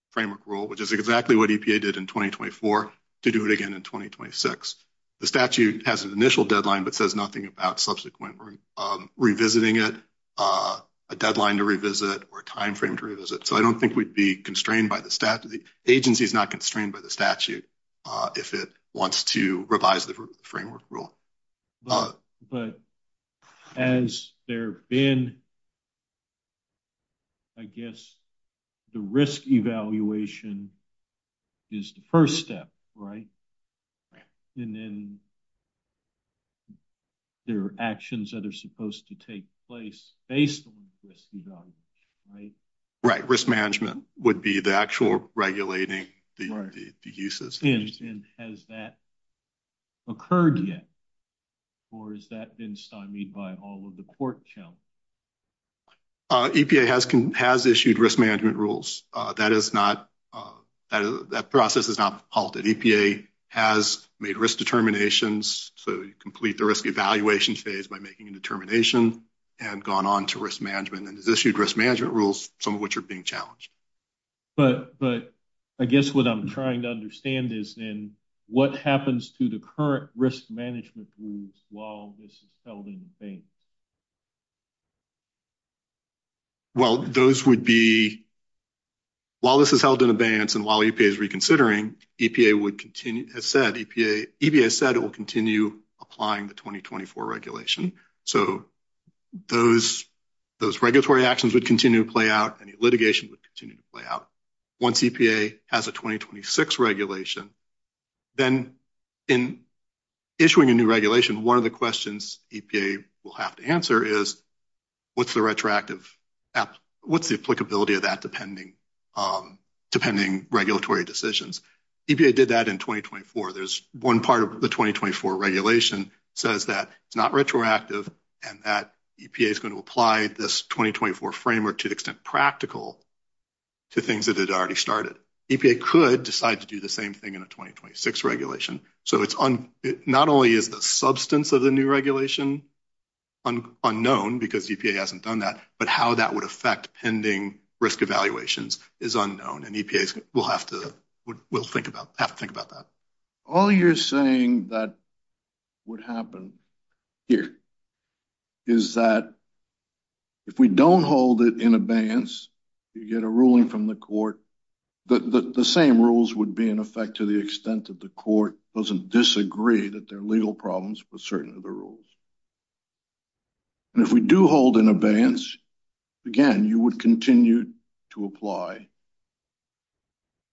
framework rule, which is exactly what EPA did in 2024 to do it again in 2026. The statute has an initial deadline, but says nothing about subsequent revisiting it, a deadline to revisit or a timeframe to revisit. So, I don't think we'd be constrained by the statute. The agency is not constrained by the statute if it wants to revise the framework rule. But has there been, I guess, the risk evaluation is the first step, right? And then there are actions that are supposed to take place based on the risk evaluation, right? Right. Risk management would be the actual regulating the uses. And has that occurred yet, or has that been stymied by all of the court challenge? EPA has issued risk management rules. That process has not halted. EPA has made risk determinations. So, you complete the risk evaluation phase by making a determination and gone on to risk management and has issued risk management rules, some of which are being challenged. But I guess what I'm trying to understand is then what happens to the current risk management rules while this is held in abeyance? Well, those would be, while this is held in abeyance and while EPA is reconsidering, EPA would continue, as said, EPA said it will continue applying the 2024 regulation. So, those regulatory actions would continue to play out and litigation would continue to play out. Once EPA has a 2026 regulation, then in issuing a new regulation, one of the questions EPA will have to answer is what's the retroactive, what's the applicability of that depending on regulatory decisions? EPA did that in 2024. There's one part of the 2024 regulation says that it's not retroactive and that EPA is going to apply this 2024 framework to the extent practical to things that had already started. EPA could decide to do the same thing in a 2026 regulation. So, not only is the substance of the new regulation unknown because EPA hasn't done but how that would affect pending risk evaluations is unknown and EPA will have to think about that. All you're saying that would happen here is that if we don't hold it in abeyance, you get a ruling from the court, the same rules would be in effect to the extent that the court doesn't disagree that there are legal problems with certain of the rules. And if we do hold in abeyance, again, you would continue to apply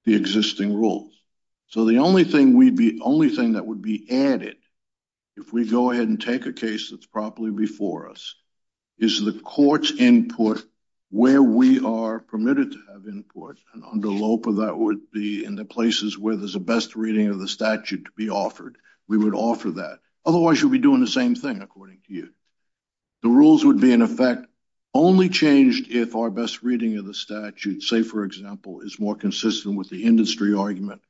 the existing rules. So, the only thing that would be added if we go ahead and take a case that's properly before us is the court's input where we are permitted to have input and under LOPA that would be in the offered. We would offer that. Otherwise, you'll be doing the same thing according to you. The rules would be in effect only changed if our best reading of the statute, say, for example, is more consistent with the industry argument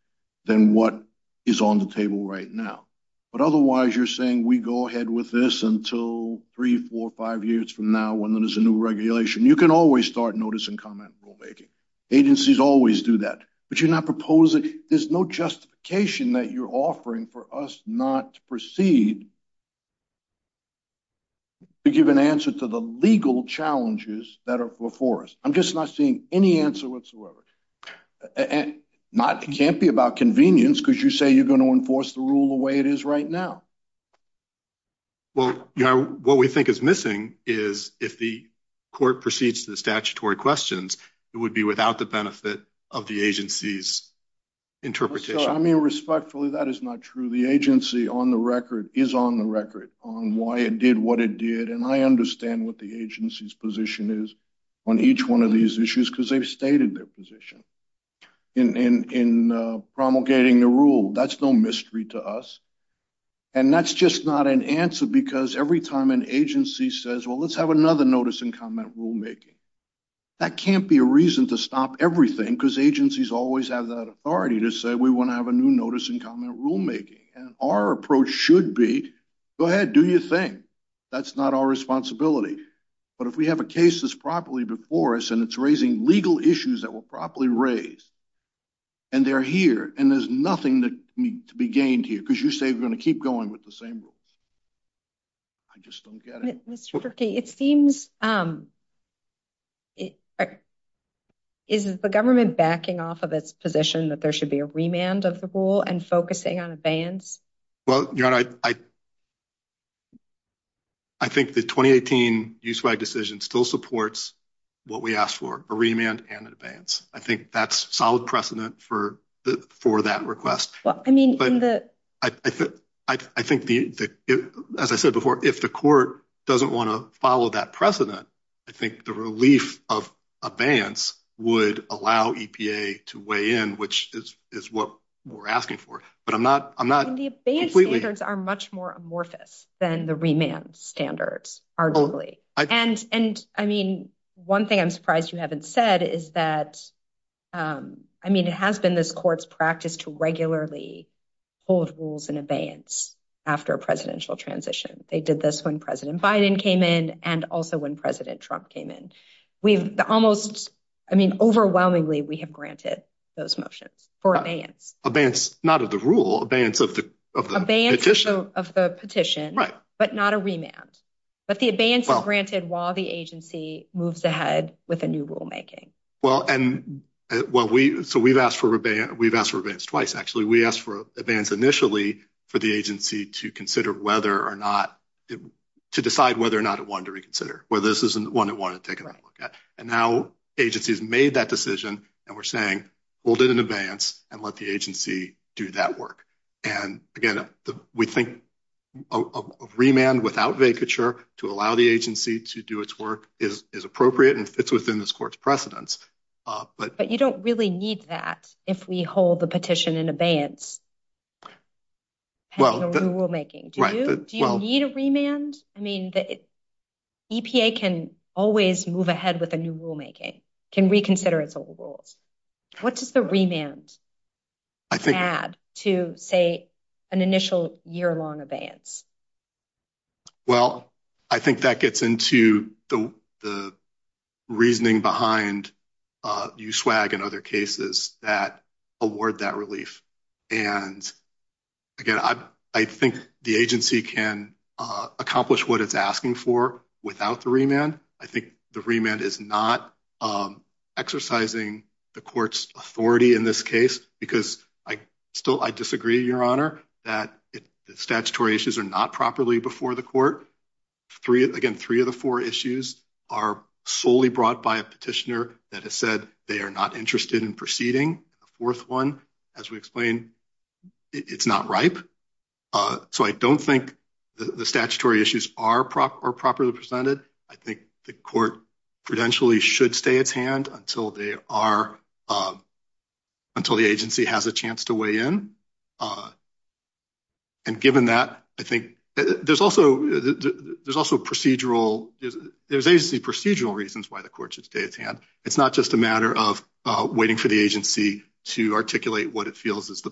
than what is on the table right now. But otherwise, you're saying we go ahead with this until three, four, five years from now when there's a new regulation. You can always start notice and comment. Agencies always do that. But you're there's no justification that you're offering for us not to proceed to give an answer to the legal challenges that are before us. I'm just not seeing any answer whatsoever. It can't be about convenience because you say you're going to enforce the rule the way it is right now. Well, what we think is missing is if the court proceeds to the statutory questions, it would be without the benefit of the agency's interpretation. I mean, respectfully, that is not true. The agency on the record is on the record on why it did what it did. And I understand what the agency's position is on each one of these issues because they've stated their position in promulgating the rule. That's no mystery to us. And that's just not an answer because every time an agency says, well, let's have another notice and comment rulemaking, that can't be a reason to stop everything because agencies always have that authority to say we want to have a new notice and comment rulemaking. And our approach should be, go ahead, do your thing. That's not our responsibility. But if we have a case that's properly before us and it's raising legal issues that were properly raised and they're here and there's nothing that needs to be gained here because you say we're going to keep going with the same rule. I just don't get it. It seems, is the government backing off of its position that there should be a remand of the rule and focusing on advance? Well, I think the 2018 use-by decision still supports what we asked for, a remand and advance. I think that's solid as I said before, if the court doesn't want to follow that precedent, I think the relief of advance would allow EPA to weigh in, which is what we're asking for. But I'm not completely- And the advance standards are much more amorphous than the remand standards, arguably. And I mean, one thing I'm surprised you haven't said is that, I mean, it has been this court's practice to regularly hold rules in advance after a presidential transition. They did this when President Biden came in and also when President Trump came in. We've almost, I mean, overwhelmingly, we have granted those motions for advance. Advance, not of the rule, advance of the petition. Of the petition, but not a remand. But the advance is granted while the agency moves ahead with a rulemaking. Well, and so we've asked for revenge twice, actually. We asked for advance initially for the agency to consider whether or not, to decide whether or not it wanted to reconsider, whether this is one it wanted to take another look at. And now agency has made that decision and we're saying, hold it in advance and let the agency do that work. And again, we think a remand without vacature to allow the agency to do its work is appropriate and fits within this court's precedence. But you don't really need that if we hold the petition in advance. Well, the rulemaking, do you need a remand? I mean, the EPA can always move ahead with a new rulemaking, can reconsider its old rules. What does the remand add to, say, an initial year-long advance? Well, I think that gets into the reasoning behind USWAG and other cases that award that relief. And again, I think the agency can accomplish what it's asking for without the remand. I think the remand is not exercising the court's authority in this case because I disagree, Your Honor, that the statutory issues are not properly before the court. Again, three of the four issues are solely brought by a petitioner that has said they are not interested in proceeding. The fourth one, as we explained, it's not ripe. So I don't think the statutory issues are properly presented. I think the court potentially should stay at hand until the agency has a chance to weigh in. And given that, I think there's also procedural reasons why the court should stay at hand. It's not just a matter of waiting for the agency to articulate what it feels is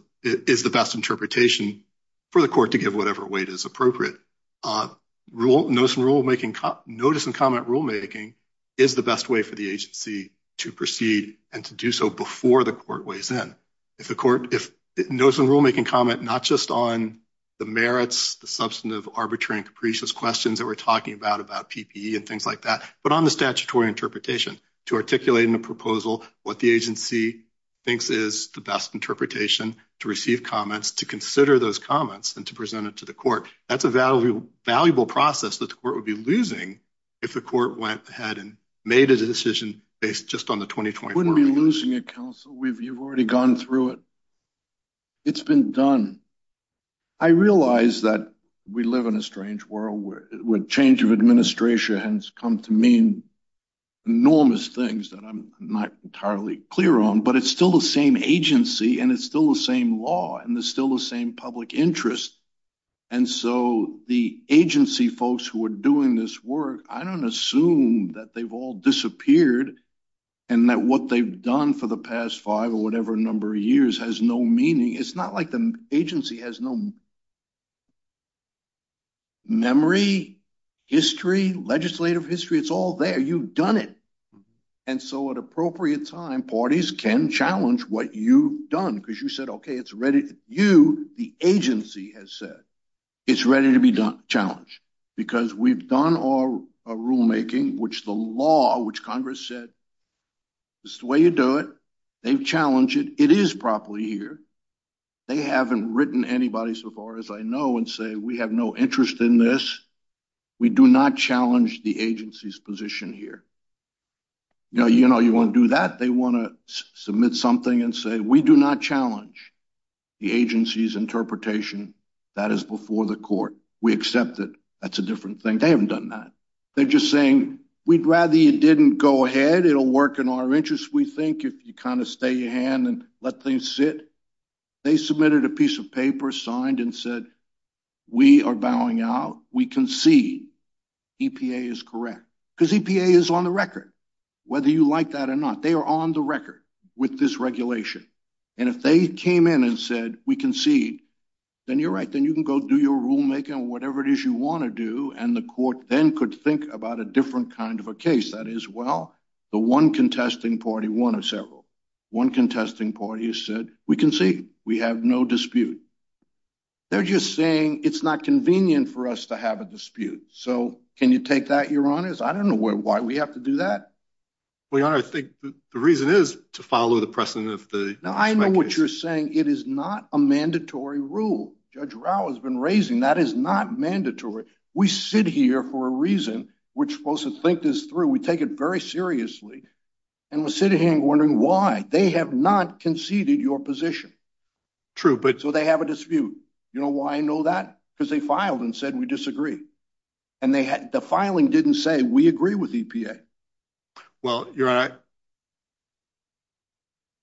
the best interpretation for the court to give whatever weight is appropriate. Notice and comment rulemaking is the best way for the agency to proceed and to do so before the court weighs in. If the court, if notice and rulemaking comment not just on the merits, the substantive, arbitrary, and capricious questions that we're talking about, about PPE and things like that, but on the statutory interpretation to articulate in a proposal what the agency thinks is the best interpretation to receive comments, to consider those comments, and to present it to the court. That's a valuable process that the court would be losing if the court went ahead and made a decision based just on the 2020 report. We wouldn't be losing it, counsel. You've already gone through it. It's been done. I realize that we live in a strange world where change of administration has come to mean enormous things that I'm not entirely clear on, but it's still the same agency and it's still the same law and it's still the same public interest. And so the agency folks who are doing this work, I don't assume that they've all disappeared and that what they've done for the past five or whatever number of years has no meaning. It's not like the agency has no memory, history, legislative history. It's all there. You've done it. And so at appropriate time, parties can challenge what you've done because you said, okay, it's you, the agency has said, it's ready to be challenged because we've done our rulemaking, which the law, which Congress said, this is the way you do it. They've challenged it. It is properly here. They haven't written anybody so far as I know and say, we have no interest in this. We do not challenge the agency's position here. Now, you want to do that. They want to the agency's interpretation that is before the court. We accept that that's a different thing. They haven't done that. They're just saying, we'd rather you didn't go ahead. It'll work in our interest. We think if you kind of stay your hand and let things sit, they submitted a piece of paper, signed and said, we are bowing out. We concede EPA is correct because EPA is on the record. Whether you like that or not, they are on the record with this regulation. And if they came in and said, we concede, then you're right. Then you can go do your rulemaking or whatever it is you want to do. And the court then could think about a different kind of a case that is, well, the one contesting party, one or several. One contesting party has said, we concede. We have no dispute. They're just saying it's not convenient for us to have a dispute. So can you take that your honors? I don't know why we have to do that. We are. I think the reason is to follow the precedent. I know what you're saying. It is not a mandatory rule. Judge Rao has been raising that is not mandatory. We sit here for a reason. We're supposed to think this through. We take it very seriously. And we're sitting here and wondering why they have not conceded your position. True. But so they have a dispute. You know why I know that? Because they filed and said, we disagree. And the filing didn't say we agree with EPA. Well, you're right.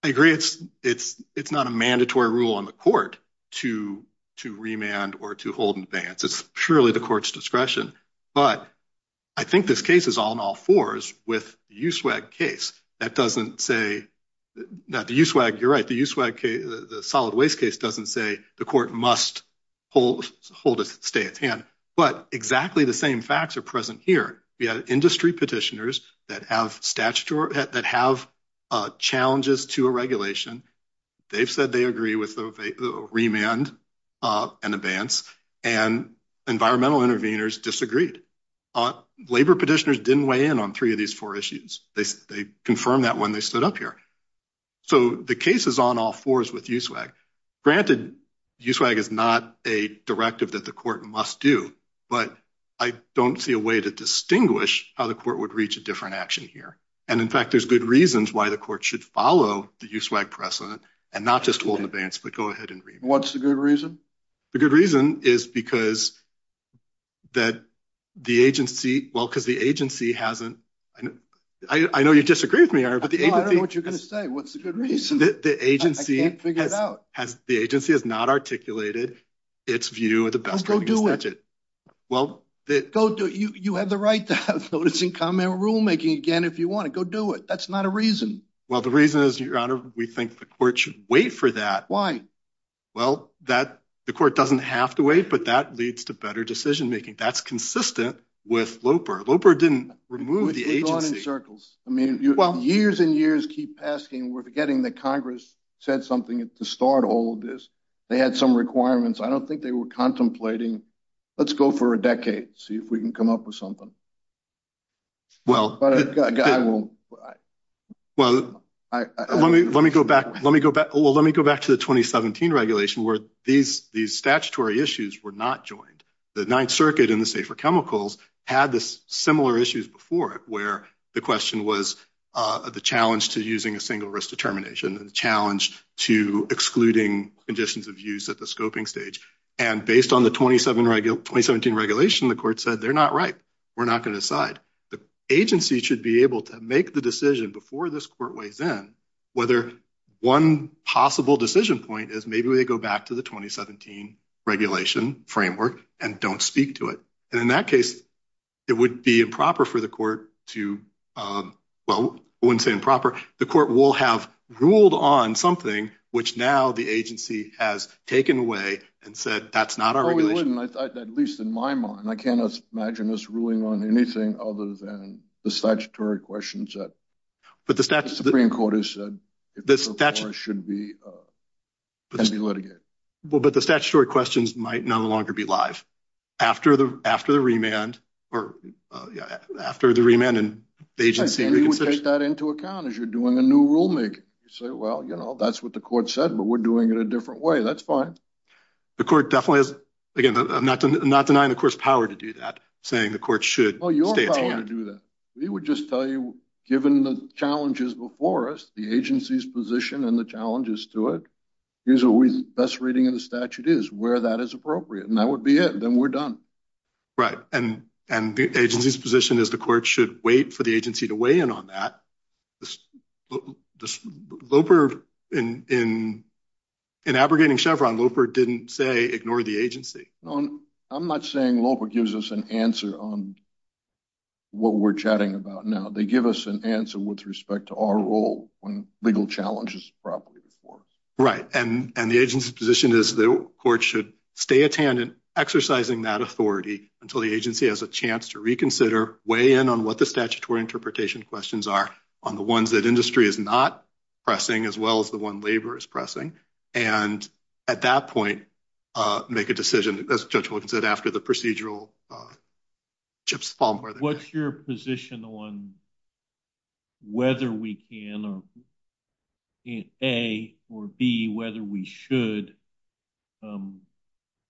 I agree it's not a mandatory rule on the court to remand or to hold in advance. It's purely the court's discretion. But I think this case is all in all fours with the USWAG case that doesn't say that the USWAG, you're right, the USWAG case, the solid waste case doesn't say the court must hold it, stay at hand. But exactly the same facts are present here. We had industry petitioners that have challenges to a regulation. They've said they agree with the remand and advance. And environmental intervenors disagreed. Labor petitioners didn't weigh in on three of these four issues. They confirmed that when they stood up here. So the case is on all fours with USWAG. Granted, USWAG is not a directive that the court must do, but I don't see a way to distinguish how the court would reach a different action here. And in fact, there's good reasons why the court should follow the USWAG precedent and not just hold in advance, but go ahead and read. What's the good reason? The good reason is because that the agency, well, because the agency hasn't, I know you disagree with me, I don't know what you're going to say. What's the good reason? I can't figure it out. The agency has not articulated its view of the best way to stretch it. Well, you have the right to have notice and comment rulemaking again, if you want to go do it. That's not a reason. Well, the reason is your honor, we think the court should wait for that. Why? Well, the court doesn't have to wait, but that leads to better decision-making. That's keep asking. We're forgetting that Congress said something at the start of all of this. They had some requirements. I don't think they were contemplating. Let's go for a decade, see if we can come up with something. Well, let me go back to the 2017 regulation where these statutory issues were not joined. The Ninth Circuit and the safer chemicals had the similar issues before it, where the question was the challenge to using a single risk determination, the challenge to excluding conditions of use at the scoping stage. Based on the 2017 regulation, the court said, they're not right. We're not going to decide. The agency should be able to make the decision before this court weighs in, whether one possible decision point is maybe we go back to the 2017 regulation framework and don't speak to it. In that case, it would be improper for the court to... Well, I wouldn't say improper. The court will have ruled on something, which now the agency has taken away and said, that's not our regulation. At least in my mind. I can't imagine this ruling on anything other than the statutory questions that the Supreme Court has said should be litigated. But the statutory questions might no longer be live. After the remand and the agency... I think you would take that into account as you're doing a new rulemaking. You say, well, that's what the court said, but we're doing it a different way. That's fine. The court definitely has... Again, I'm not denying the court's power to do that, saying the court should... Well, your power to do that. We would just tell you, given the challenges before us, the agency's position and the challenges to it, here's what the best reading in the statute is, where that is appropriate. And that would be it, then we're done. Right. And the agency's position is the court should wait for the agency to weigh in on that. In abrogating Chevron, Loper didn't say ignore the agency. I'm not saying Loper gives us an answer on what we're chatting about now. They give us an answer with respect to our role when legal challenges properly before. Right. And the agency's position is the court should stay at hand in exercising that authority until the agency has a chance to reconsider, weigh in on what the statutory interpretation questions are on the ones that industry is not pressing, as well as the one labor is pressing. And at that point, make a decision, as Judge Wood said, after the procedural chips fall. What's your position on whether we can, A, or B, whether we should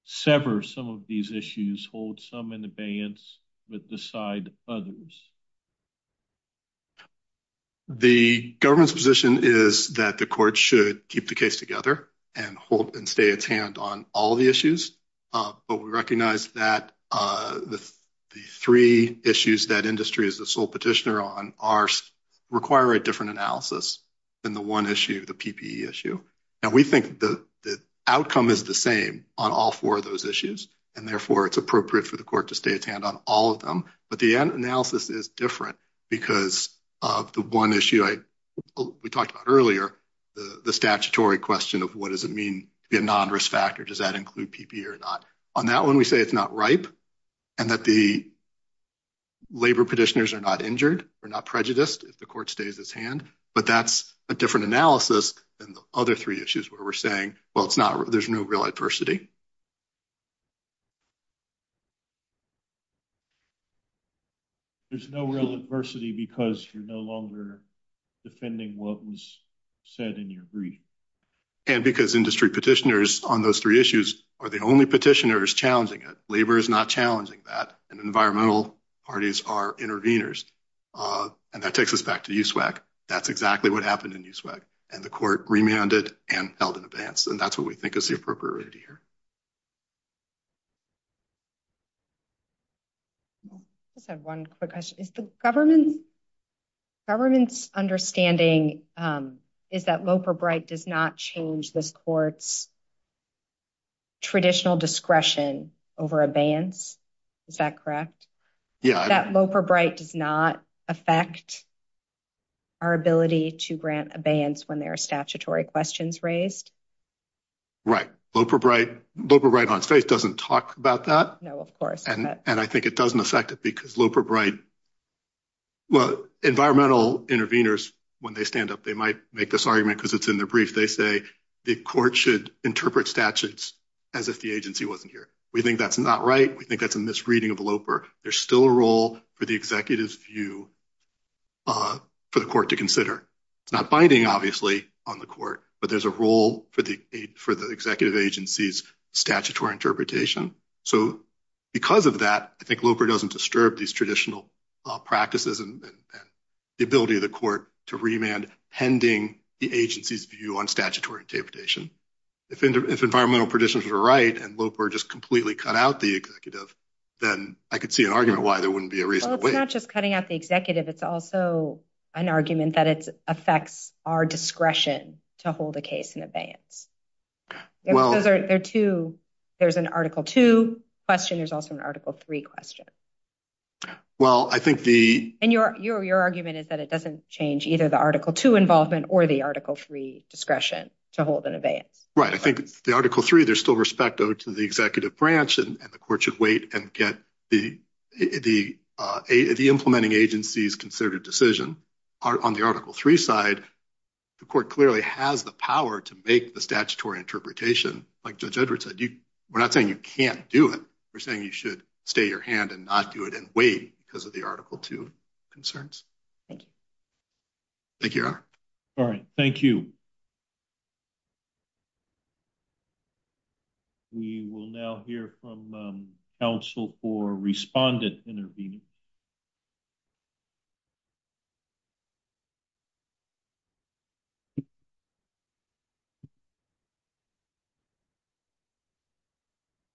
sever some of these issues, hold some in abeyance, but decide others? The government's position is that the court should keep the case together and hold and stay at hand on all the issues. But we recognize that the three issues that industry is the sole petitioner on require a different analysis than the one issue, the PPE issue. And we think the outcome is the same on all four of those issues. And therefore, it's appropriate for the court to stay at hand on all of them. But the analysis is different because of the one issue we talked about earlier, the statutory question of what does it mean to be a non-risk factor? Does that include PPE or not? On that one, we say it's not ripe and that the labor petitioners are not injured, they're not prejudiced if the court stays its hand. But that's a different analysis than the other three issues where we're saying, well, there's no real adversity. There's no real adversity because you're no longer defending what was said in your brief. And because industry petitioners on those three issues are the only petitioners challenging it, labor is not challenging that, and environmental parties are intervenors. And that takes us back to USWAC. That's exactly what happened in USWAC. And the court remanded and held in the appropriateness. I just have one quick question. Is the government's understanding is that Loper-Bright does not change the court's traditional discretion over abeyance? Is that correct? That Loper-Bright does not affect our ability to grant abeyance when there are statutory questions raised? Right. Loper-Bright on faith doesn't talk about that. No, of course. And I think it doesn't affect it because Loper-Bright... Well, environmental intervenors, when they stand up, they might make this argument because it's in their brief. They say the court should interpret statutes as if the agency wasn't here. We think that's not right. We think that's a misreading of Loper. There's still a role for the executive's view for the court to consider. It's not binding, obviously, on the court, but there's a role for the executive agency's statutory interpretation. So because of that, I think Loper doesn't disturb these traditional practices and the ability of the court to remand pending the agency's view on statutory interpretation. If environmental practitioners were right and Loper just completely cut out the executive, then I could see an argument why there wouldn't be a reasonable way. Well, it's not just cutting out the executive. It's also an argument that it affects our discretion to hold a case in abeyance. There's an Article 2 question. There's also an Article 3 question. And your argument is that it doesn't change either the Article 2 involvement or the Article 3 discretion to hold an abeyance. Right. I think the Article 3, there's still respect to the executive branch and the court should wait and get the implementing agency's decision. On the Article 3 side, the court clearly has the power to make the statutory interpretation. Like Judge Edwards said, we're not saying you can't do it. We're saying you should stay your hand and not do it and wait because of the Article 2 concerns. Thank you, Your Honor. All right. Thank you. We will now hear from counsel for respondent intervening.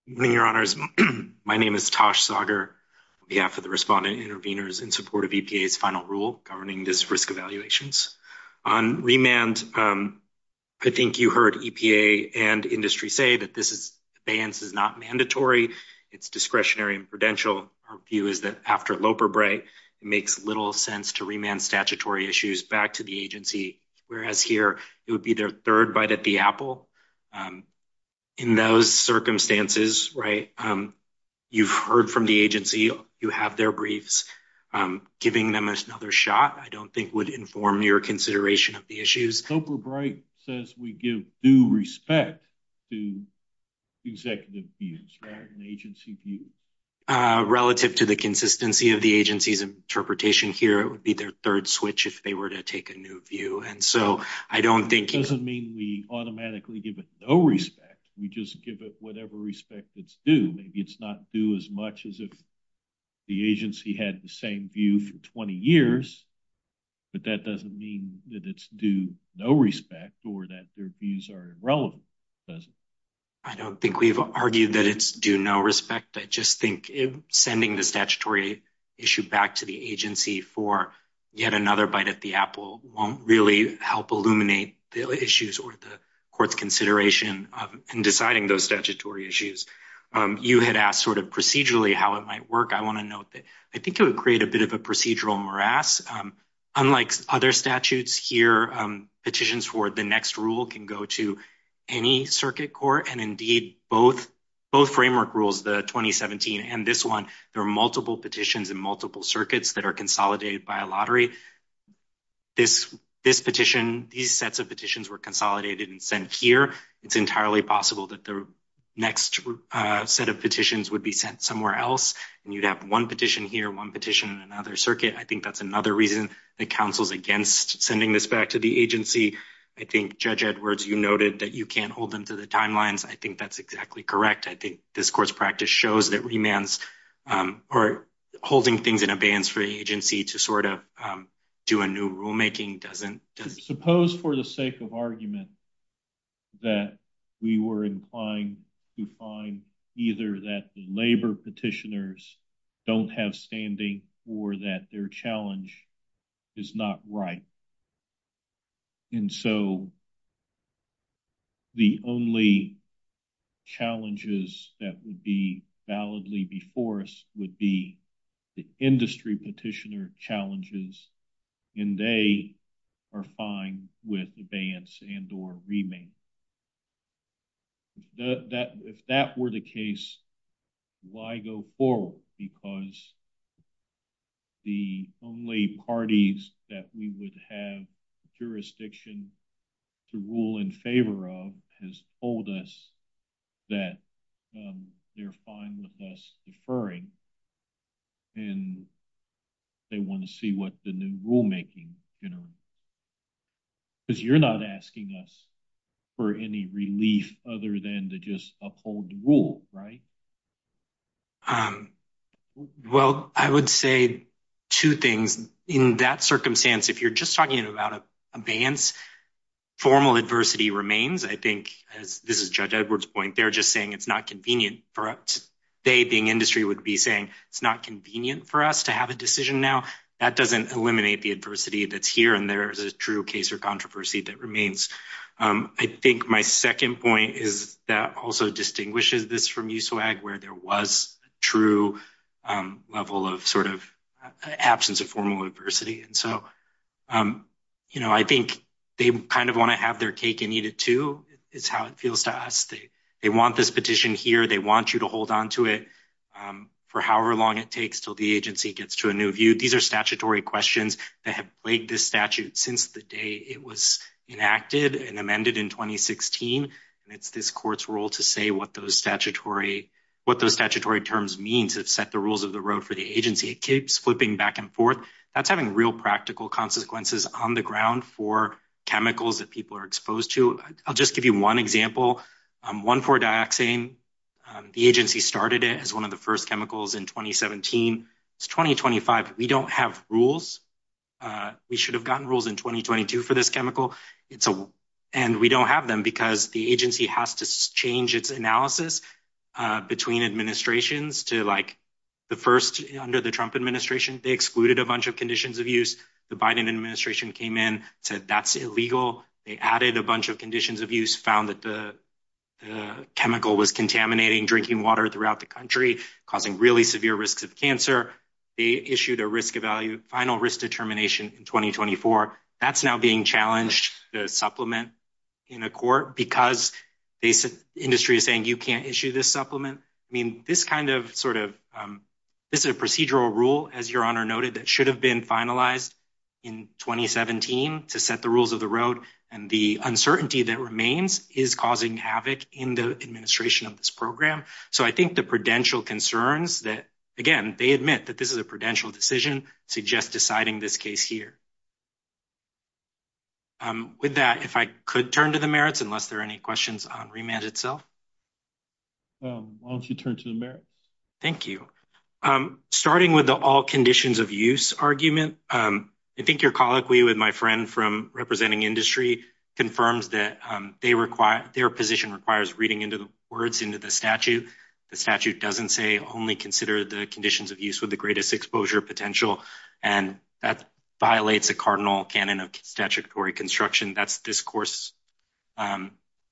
Good morning, Your Honors. My name is Tosh Sager on behalf of the respondent intervenors in support of EPA's final rule governing this risk evaluations. On remand, I think you heard EPA and industry say that this abeyance is not mandatory. It's discretionary and prudential. Our view is that after Loper Bright, it makes little sense to remand statutory issues back to the agency. Whereas here, it would be their third bite at the apple. In those circumstances, right, you've heard from the agency. You have their briefs. Giving them another shot, I don't think would inform your consideration of the issues. Loper Bright says we give due respect to executive views, right, an agency view. Relative to the consistency of the agency's interpretation here, it would be their third switch if they were to take a new view. Doesn't mean we automatically give it no respect. We just give it whatever respect it's due. It's not due as much as if the agency had the same view for 20 years, but that doesn't mean that it's due no respect or that their views are irrelevant, does it? I don't think we've argued that it's due no respect. I just think sending the statutory issue back to the agency for yet another bite at the apple won't really help illuminate the issues or the court's consideration in deciding those statutory issues. You had asked sort of procedurally how it might work. I want to note that I think it would create a bit of a procedural morass. Unlike other statutes here, petitions for the next rule can go to any circuit court, and indeed both framework rules, the 2017 and this one, there are multiple petitions in multiple circuits that are consolidated by a lottery. This petition, these sets of petitions were consolidated and sent here. It's entirely possible that the next set of petitions would be sent somewhere else, and you'd have one petition here, one petition in another circuit. I think that's another reason that counsel's against sending this back to the agency. I think, Judge Edwards, you noted that you can't hold them to the timelines. I think that's exactly correct. I think this court's practice shows that remands are holding things in advance for the agency to sort of do a new rulemaking doesn't... Suppose for the sake of argument that we were implying to find either that the labor petitioners don't have standing or that their challenge is not right, and so the only challenges that would be validly before us would be the industry petitioner challenges, and they are fine with abeyance and or remand. If that were the case, why go forward? Because the only parties that we would have jurisdiction to rule in favor of has told us that they're fine with us deferring, and they want to see what the new rulemaking... Because you're not asking us for any relief other than to just uphold the rule, right? Well, I would say two things. In that circumstance, if you're just talking about abeyance, formal adversity remains. I think, as this is Judge Edwards' point, they're just saying it's not convenient for us. They, being industry, would be saying it's not convenient for us to have a decision now. That doesn't eliminate the adversity that's here, and there's a true case of controversy that remains. I think my second point is that also distinguishes this from USWAG, where there was true level of sort of absence of formal adversity, and so I think they kind of want to have their cake and eat it, too, is how it feels to us. They want this petition here. They want you to hold onto it for however long it takes till the agency gets to a new view. These are statutory questions that have plagued this statute since the day it was enacted and amended in 2016, and it's this court's role to say what those statutory terms mean to set the rules of the road for the agency. It keeps flipping back and forth. That's having real practical consequences on the ground for chemicals that people are exposed to. I'll just give you one example. 1,4-Dioxane, the agency started it as one of the first chemicals in 2017. It's 2025. We don't have rules. We should have gotten rules in 2022 for this chemical, and we don't have them because the agency has to change its analysis between administrations to, like, the first under the Trump administration, they excluded a bunch of conditions of use. The Biden administration came in, said that's illegal. They added a bunch of conditions of use, found that the chemical was contaminating drinking water throughout the country, causing really severe risk of cancer. They issued a final risk determination in 2024. That's now being challenged, the supplement in the court, because the industry is saying you can't issue this supplement. This is a procedural rule, as your Honor noted, that should have been finalized in 2017 to set the rules of the road, and the uncertainty that remains is causing havoc in the administration of this program. So I think the prudential concerns that, again, they admit that this is a prudential decision to just deciding this case here. With that, if I could turn to the merits, unless there are any questions on remand itself. Why don't you turn to the merits? Thank you. Starting with the all conditions of use argument, I think your colloquy with my friend from representing industry confirms that their position requires reading into the words into the statute. The statute doesn't say only consider the conditions of use with the greatest exposure potential, and that violates the cardinal canon of statutory construction. That's this course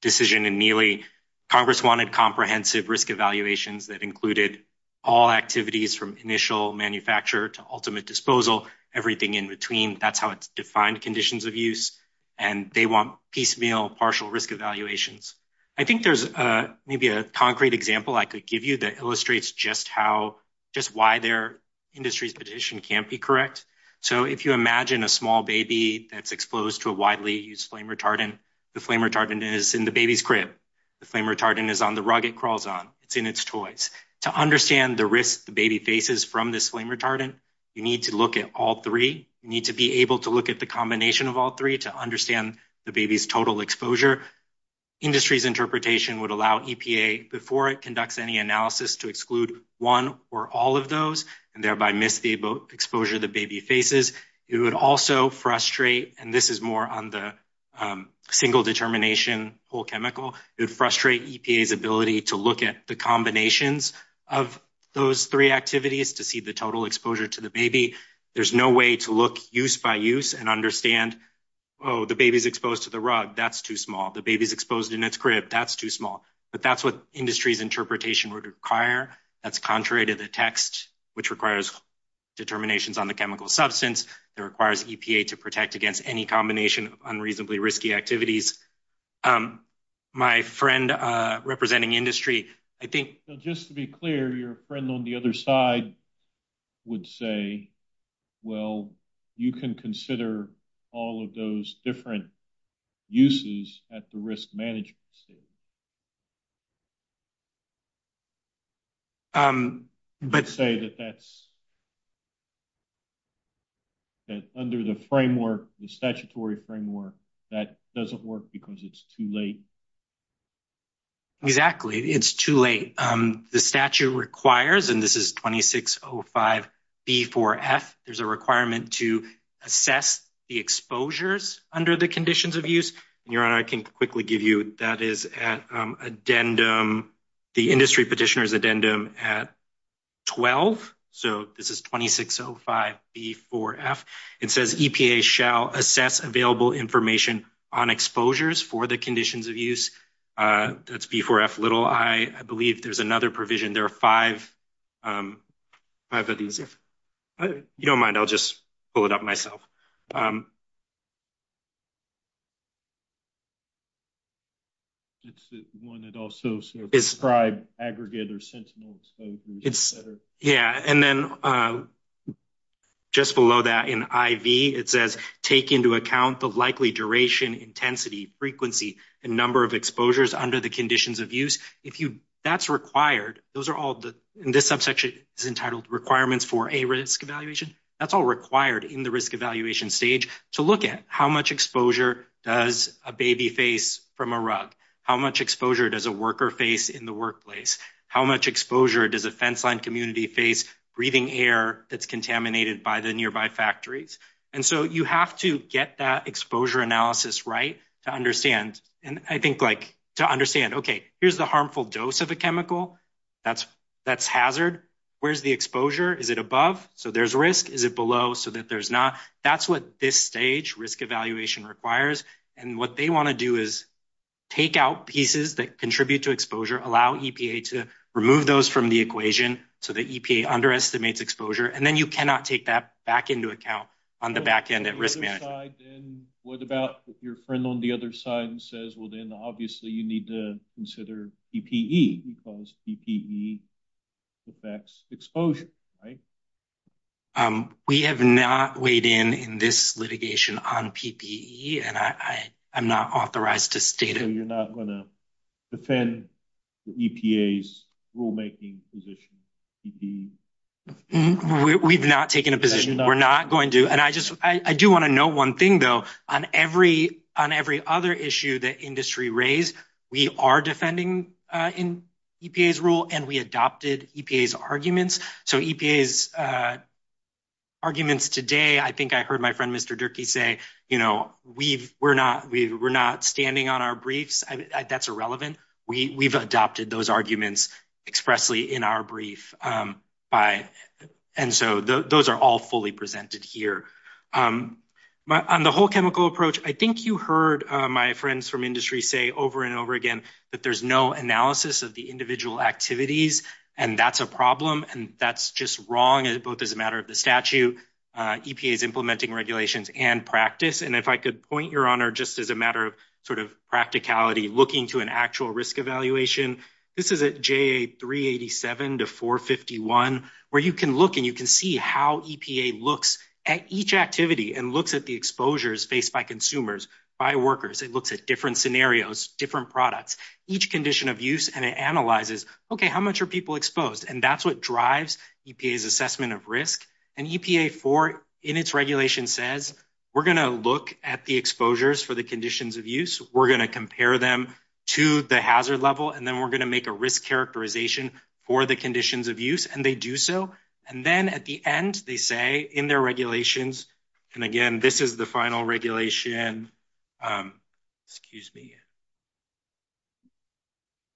decision in Neely. Congress wanted comprehensive risk evaluations that included all activities from initial manufacture to ultimate disposal, everything in between. That's how it's defined conditions of use, and they want piecemeal partial risk evaluations. I think there's maybe a concrete example I could give you that illustrates just how, just why their industry's position can't be correct. So if you imagine a small baby that's exposed to a widely used flame retardant, the flame retardant is in the baby's crib. The flame retardant is on the rug it crawls on. It's in its toys. To understand the risk the baby faces from this flame retardant, you need to look at all three. You need to be able to look at the combination of all three to understand the baby's total exposure. Industry's interpretation would allow EPA before it conducts any analysis to exclude one or all of those, and thereby miss the exposure the baby faces. It would also frustrate, and this is more on the single determination full chemical, it would frustrate EPA's ability to look at the combinations of those three activities to see the total exposure to the baby. There's no way to look use by use and understand, oh the baby's exposed to the rug, that's too small. The baby's exposed in its crib, that's too small. But that's what industry's interpretation would require. That's contrary to the text which requires determinations on the that requires EPA to protect against any combination of unreasonably risky activities. My friend representing industry, I think... Just to be clear, your friend on the other side would say, well you can consider all of those different uses at the risk management. So, let's say that that's that under the framework, the statutory framework, that doesn't work because it's too late. Exactly, it's too late. The statute requires, and this is 2605B4F, there's a requirement to assess the exposures under the conditions of use. Your Honor, I can quickly give you that is at addendum, the industry petitioner's addendum at 12. So, this is 2605B4F. It says, EPA shall assess available information on exposures for the conditions of use. That's B4F. I believe there's another provision. There are five of these. If you don't mind, I'll just pull it up myself. It's the one that also describes aggregator sentiments. Yeah, and then just below that in IV, it says, take into account the likely duration, intensity, frequency, and number of exposures under the conditions of use. That's required. Those are all, in this subsection, is entitled requirements for a risk evaluation. That's all required in the risk evaluation stage to look at how much exposure does a baby face from a rug? How much exposure does a worker face in the workplace? How much exposure does a fenceline community face breathing air that's contaminated by the nearby factories? And so, you have to get that exposure analysis right to understand. And I think, like, to understand, okay, here's the harmful dose of the chemical. That's hazard. Where's the exposure? Is it above? So, there's risk. Is it below? So, that there's not. That's what this stage risk evaluation requires. And what they want to do is take out pieces that contribute to exposure, allow EPA to remove those from the equation so that EPA underestimates exposure, and then you cannot take that back into account on the risk management. What about if your friend on the other side says, well, then, obviously, you need to consider PPE because PPE affects exposure, right? We have not weighed in in this litigation on PPE, and I'm not authorized to state it. So, you're not going to defend the EPA's rulemaking position? We've not taken a position. We're not going to. And I do want to note one thing, though. On every other issue that industry raised, we are defending in EPA's rule, and we adopted EPA's arguments. So, EPA's arguments today, I think I heard my friend Mr. Durkee say, you know, we're not standing on our briefs. That's irrelevant. We've adopted those arguments expressly in our brief. And so, those are all fully presented here. On the whole chemical approach, I think you heard my friends from industry say over and over again that there's no analysis of the individual activities, and that's a problem, and that's just wrong, both as a matter of the statute, EPA's implementing regulations, and practice. And if I could point your honor, just as a matter of sort of practicality, looking to an actual risk evaluation, this is at JA 387 to 451, where you can look and you can see how EPA looks at each activity and looks at the exposures faced by consumers, by workers. It looks at different scenarios, different products, each condition of use, and it analyzes, okay, how much are people exposed? And that's what drives EPA's assessment of risk. And EPA, in its regulation, says, we're going to look at the exposures for the conditions of use. We're going to compare them to the hazard level, and then we're going to make a risk characterization for the conditions of use, and they do so. And then, at the end, they say in their regulations, and again, this is the final regulation, excuse me,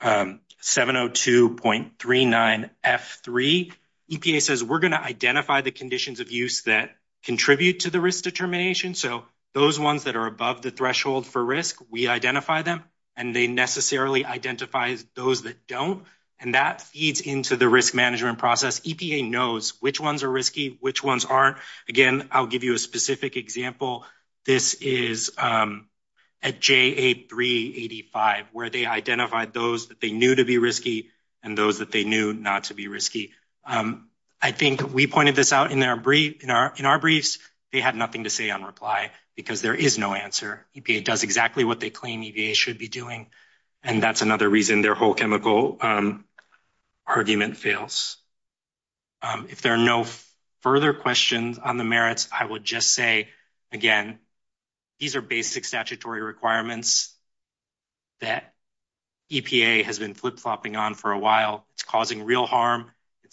702.39F3, EPA says, we're going to identify the conditions of use that contribute to the risk determination. So, those ones that are above the threshold for risk, we identify them, and they necessarily identify those that don't, and that feeds into the risk management process. EPA knows which ones are risky, which ones aren't. Again, I'll give you a specific example. This is at JA 385, where they identified those that they knew to be risky and those that they knew not to be risky. I think we pointed this out in our briefs, they had nothing to say on reply, because there is no answer. EPA does exactly what they claim EVA should be doing, and that's another reason their whole chemical argument fails. If there are no further questions on the merits, I would just say, again, these are basic statutory requirements that EPA has been flip-flopping on for a while. It's causing real harm.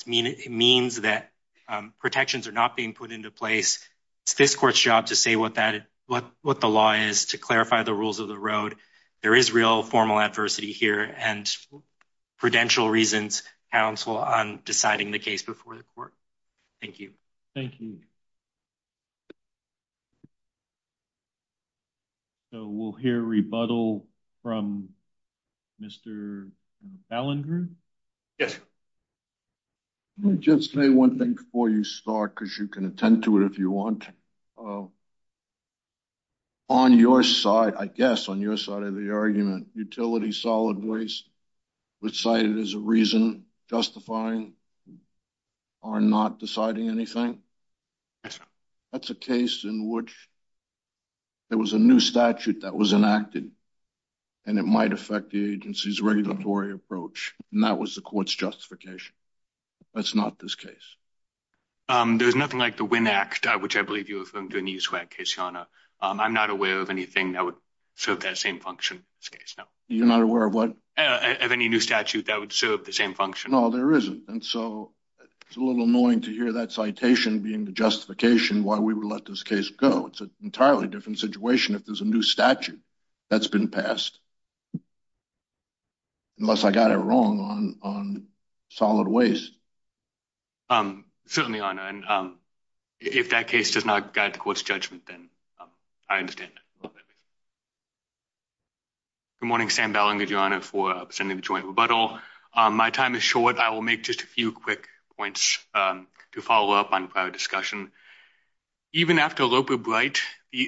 It means that protections are not being put into place. It's this court's job to say what the law is, to clarify the rules of the road. There is real formal adversity here, and prudential reasons, counsel, on deciding the case before the court. Thank you. Thank you. So, we'll hear a rebuttal from Mr. Ballenger. Yes. Let me just say one thing before you start, because you can attend to it if you want. On your side, I guess, on your side of the argument, utility solid waste was cited as a reason justifying our not deciding anything. That's a case in which there was a new statute that was enacted, and it might affect the agency's regulatory approach. That was the court's justification. That's not this case. There's nothing like the Winn Act, which I believe you referred to in each case, Your Honor. I'm not aware of anything that would serve that same function. You're not aware of what? Of any new statute that would serve the same function. No, there isn't. It's a little annoying to hear that citation being the justification why we would let this case go. It's an entirely different situation if there's a new statute that's been passed. Unless I got it wrong on solid waste. Excuse me, Your Honor. If that case does not guide the court's judgment, then I understand. Good morning, Sam Ballinger, Your Honor, for abstaining from joint rebuttal. My time is short. I will make just a few quick points to follow up on prior discussion. Even after Loper-Bright,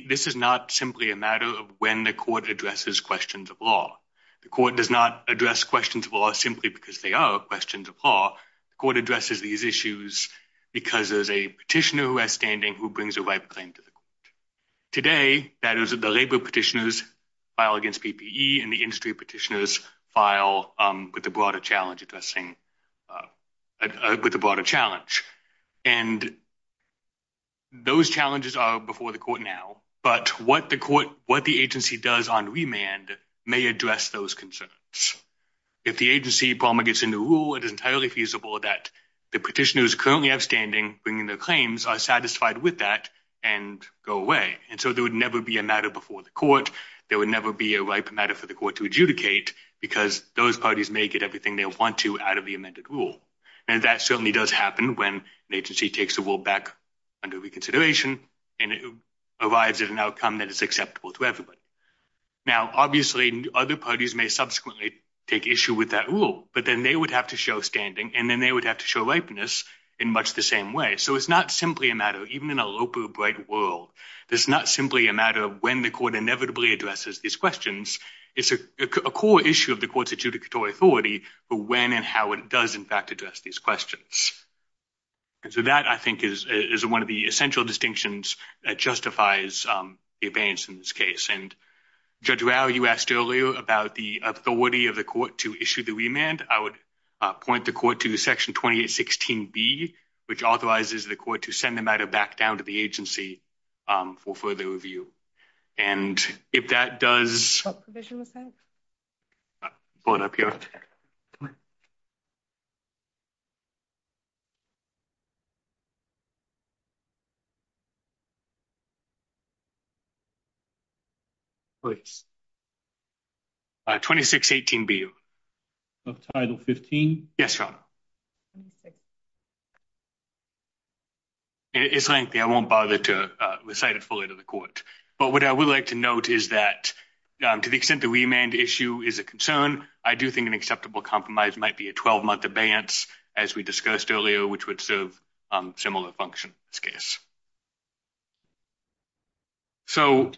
this is not simply a matter of when the court addresses questions of law. The court does not address questions of law simply because they are questions of law. The court addresses these issues because there's a petitioner who has standing who brings a right claim to the court. Today, that is, the labor petitioners file against PPE, and the industry before the court now. But what the agency does on remand may address those concerns. If the agency promulgates a new rule, it is entirely feasible that the petitioners currently have standing, bringing their claims, are satisfied with that, and go away. And so there would never be a matter before the court. There would never be a right matter for the court to adjudicate because those parties may get everything they want to out of the amended rule. And that certainly does happen when the agency takes the rule back under reconsideration, and it arrives at an outcome that is acceptable to everybody. Now, obviously, other parties may subsequently take issue with that rule, but then they would have to show standing, and then they would have to show ripeness in much the same way. So it's not simply a matter, even in a Loper-Bright world, it's not simply a matter of when the court inevitably addresses these questions. It's a core issue of the court's adjudicatory authority for when and how it does in fact address these questions. And so that, I think, is one of the essential distinctions that justifies the abeyance in this case. And Judge Rao, you asked earlier about the authority of the court to issue the remand. I would point the court to Section 2816B, which authorizes the court to send the matter back down to the agency for further review. And if that does... What provision was that? Hold up here. Which? 2618B. Of Title 15? Yes, Your Honor. Okay. It's lengthy. I won't bother to recite it fully to the court. But what I would like to note is that to the extent the remand issue is a concern, I do think an acceptable compromise might be a 12-month abeyance, as we discussed earlier, which would serve similar functions in this case. So,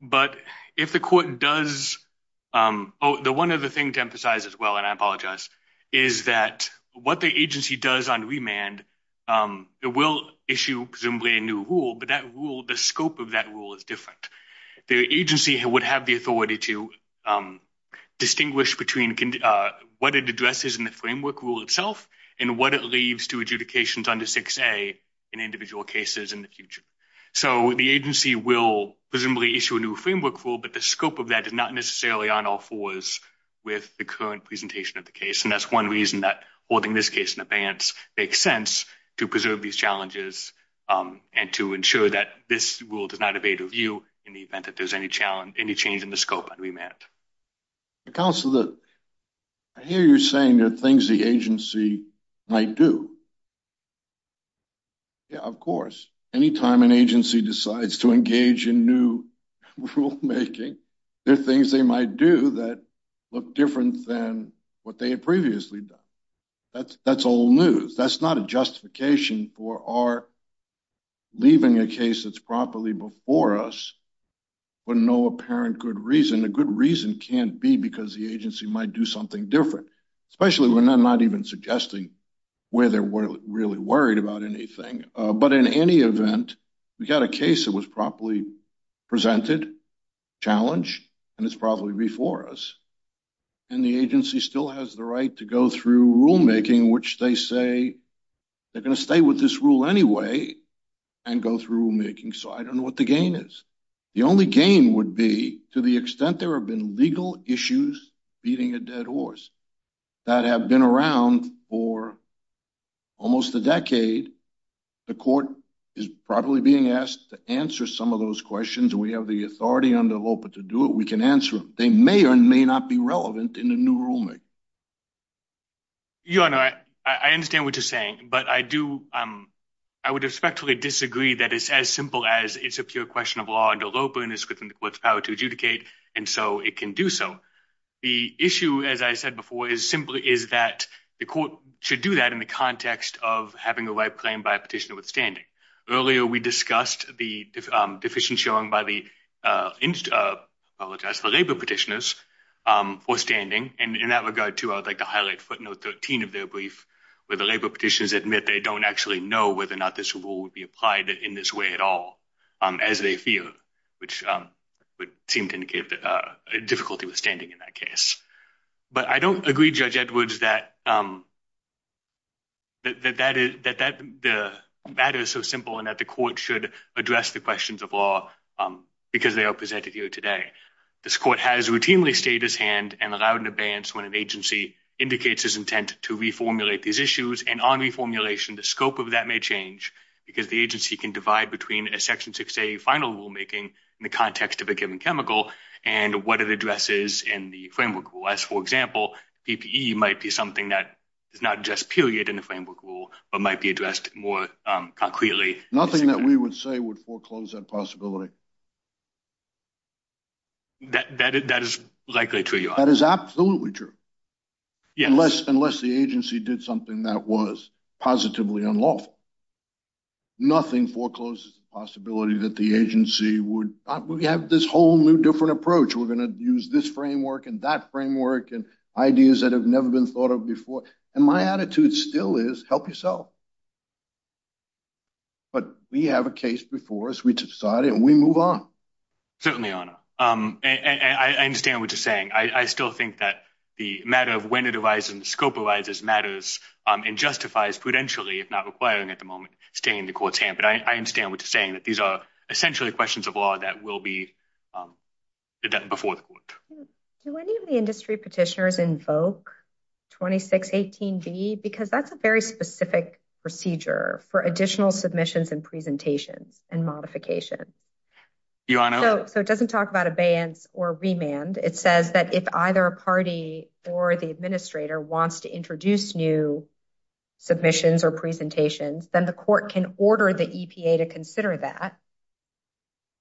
but if the court does... Oh, the one other thing to emphasize as well, and I apologize, is that what the agency does on remand, it will issue presumably a new rule, but that rule, the scope of that rule, is different. The agency would have the authority to distinguish between what it addresses in the framework rule itself and what it leaves to adjudications under 6A in individual cases in the future. So, the agency will presumably issue a new framework rule, but the scope of that is not necessarily on all fours with the current presentation of the case. And that's one reason that holding this case in advance makes sense to preserve these challenges and to ensure that this rule does not evade review in the event that there's any change in the scope of remand. Counselor, I hear you saying there are things the agency might do. Yeah, of course. Anytime an agency decides to engage in new rulemaking, there are things they might do that look different than what they had previously done. That's old news. That's not a justification for our leaving a case that's properly before us for no apparent good reason. A good reason can't be because the agency might do something different, especially when I'm not even suggesting where they're really worried about anything. But in any event, we got a case that was properly presented, challenged, and it's probably before us. And the agency still has the right to go through rulemaking, which they say they're going to stay with this rule anyway and go through rulemaking. So, I don't know what the game is. The only game would be to the extent there have been legal issues beating a dead horse that have been around for almost a decade. The court is probably being asked to answer some of those questions. We have the authority under LOPA to do it. We can answer them. They may or may not be relevant in a new rulemaking. Your Honor, I understand what you're saying, but I would respectfully disagree that it's as simple as it's a pure question of law under LOPA and it's what's power to adjudicate, and so it can do so. The issue, as I said before, is simply is that the court should do that in the context of having a right claimed by a petitioner withstanding. Earlier, we discussed the deficient showing by the labor petitioners withstanding. And in that regard, too, I would like to highlight footnote 13 of their brief, where the labor petitioners admit they don't actually know whether or not this rule would apply in this way at all as they feel, which would seem to indicate a difficulty withstanding in that case. But I don't agree, Judge Edwards, that that is so simple and that the court should address the questions of law because they are presented here today. This court has routinely stayed his hand and allowed an abeyance when an agency indicates its intent to reformulate these issues. And on reformulation, the scope of that may change because the agency can divide between a Section 6A final rulemaking in the context of a given chemical and what it addresses in the framework. For example, PPE might be something that is not just period in the framework rule, but might be addressed more concretely. Nothing that we would say would foreclose that possibility. That is likely true, Your Honor. That is absolutely true. Unless the agency did something that was positively unlawful. Nothing forecloses the possibility that the agency would have this whole new different approach. We're going to use this framework and that framework and ideas that have never been thought of before. And my attitude still is, help yourself. But we have a case before us, we decided, and we move on. Certainly, Your Honor. I understand what you're saying. I still think that the matter of when it arises and scope arises matters and justifies prudentially, if not requiring at the moment, staying in the court's hand. But I understand what you're saying, that these are essentially questions of law that will be before the court. Do any of the industry petitioners invoke 2618B? Because that's a very specific procedure for additional submissions and presentations and modifications. Your Honor. So it doesn't talk about abeyance or remand. It says that if either a party or the administrator wants to introduce new submissions or presentations, then the court can order the EPA to consider that.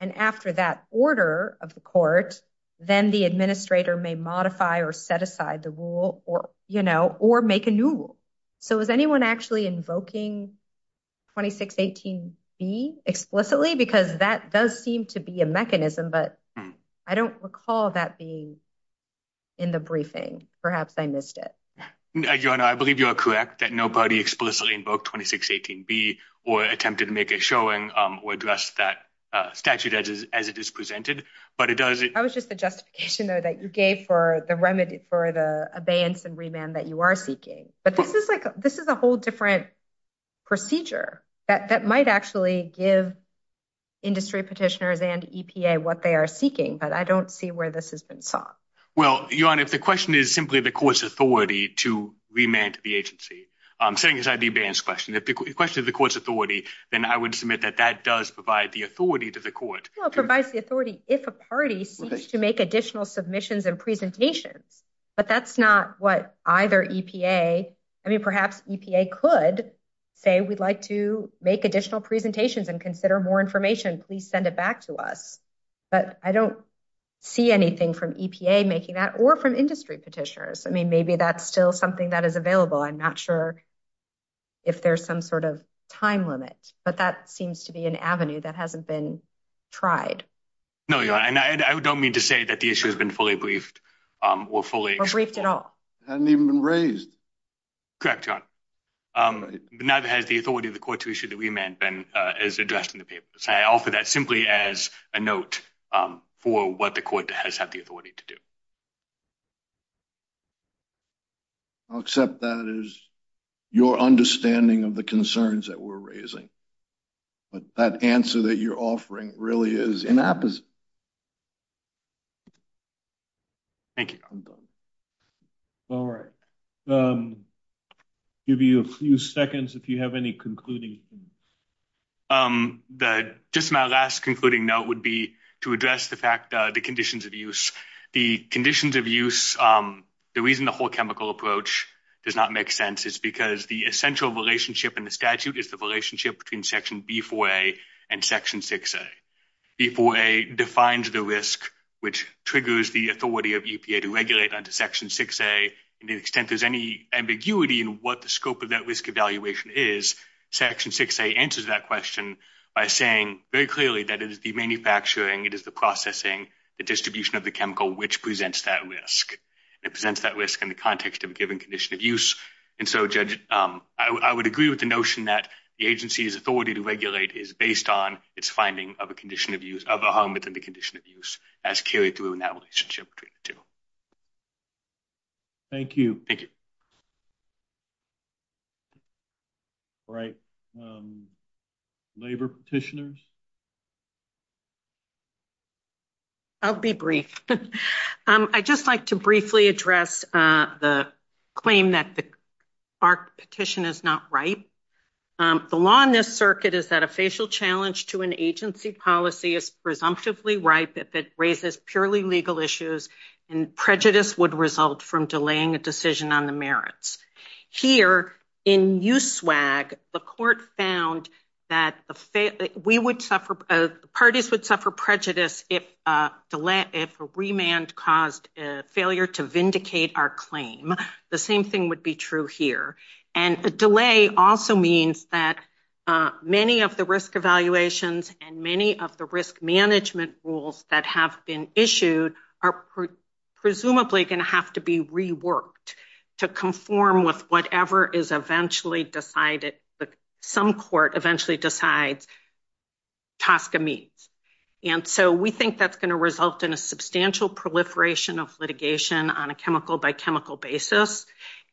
And after that order of the court, then the administrator may modify or set aside the rule or make a new rule. So is anyone actually invoking 2618B explicitly? Because that does seem to be a mechanism, but I don't recall that being in the briefing. Perhaps I missed it. Your Honor, I believe you are correct that nobody explicitly invoked 2618B or attempted to make it showing or address that statute as it is presented. But it does... That was just the justification that you gave for the remedy for the abeyance and remand that you are seeking. But this is a whole different procedure that might actually give industry petitioners and EPA what they are seeking. But I don't see where this has been taught. Well, Your Honor, if the question is simply the court's authority to remand the agency, I'm saying it's not an abeyance question. If the question is the court's authority, then I would submit that that does provide the authority to the court. Provides the authority if a party seems to make additional submissions and presentations, but that's not what either EPA... I mean, perhaps EPA could say, we'd like to make additional presentations and consider more information. Please send it back to us. But I don't see anything from EPA making that or from industry petitioners. I mean, maybe that's still something that is available. I'm not sure if there's some sort of time limit, but that seems to be an avenue that hasn't been tried. No, Your Honor. I don't mean to say that the issue has been fully briefed or fully... Or briefed at all. It hasn't even been raised. Correct, Your Honor. But neither has the authority of the court to issue the remand been as addressed in the papers. I offer that simply as a note for what the court has had the authority to do. I'll accept that as your understanding of the concerns that we're raising. But that answer that you're offering really is inappropriate. Thank you. I'm done. All right. Give you a few seconds if you have any concluding things. Just my last concluding note would be to address the fact that the conditions of use... The conditions of use, the reason the whole chemical approach does not make sense is because the essential relationship in the statute is the relationship between Section B4A and Section 6A. B4A defines the risk, which triggers the authority of EPA to regulate under Section 6A. To the extent there's any ambiguity in what the scope of that risk evaluation is, Section 6A answers that question by saying very clearly that it is the manufacturing, it is the processing, the distribution of the chemical, which presents that risk. It presents that risk in the context of a given condition of use. Judge, I would agree with the notion that the agency's authority to regulate is based on its finding of a condition of use, of a harm within the condition of use, as carried through in that relationship between the two. Thank you. All right. Labor petitioners? I'll be brief. I'd just like to briefly address the claim that the FARC petition is not right. The law in this circuit is that a facial challenge to an agency policy is presumptively right if it raises purely legal issues, and prejudice would result from delaying a decision on the merits. Here, in USWAG, the court found that parties would suffer prejudice if a remand caused failure to vindicate our claim. The same thing would be true here. The delay also means that many of the risk evaluations and many of the risk management rules that have been issued are presumably going to have to be reworked to conform with whatever is eventually decided, some court eventually decides, Tosca meets. We think that's going to result in a substantial proliferation of litigation on a chemical by chemical basis.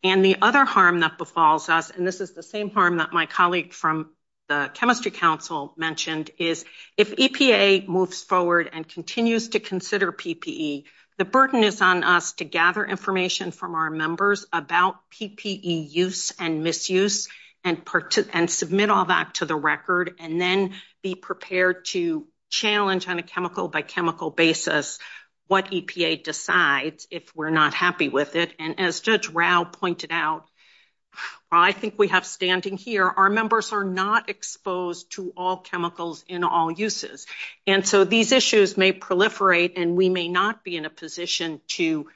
The other harm that befalls us, and this is the same harm that my colleague from the Chemistry Council mentioned, is if EPA moves forward and continues to consider information from our members about PPE use and misuse, and submit all that to the record, and then be prepared to challenge on a chemical by chemical basis what EPA decides if we're not happy with it. As Judge Rao pointed out, I think we have standing here, our members are not exposed to all chemicals in all uses. These issues may proliferate, and we may not be in a position to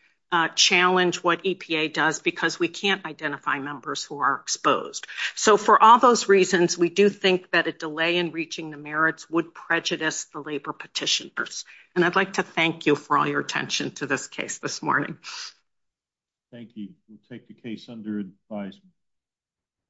challenge what EPA does because we can't identify members who are exposed. So for all those reasons, we do think that a delay in reaching the merits would prejudice the labor petitioners. And I'd like to thank you for all your attention to this case this morning. Thank you. We'll take the case under advisement.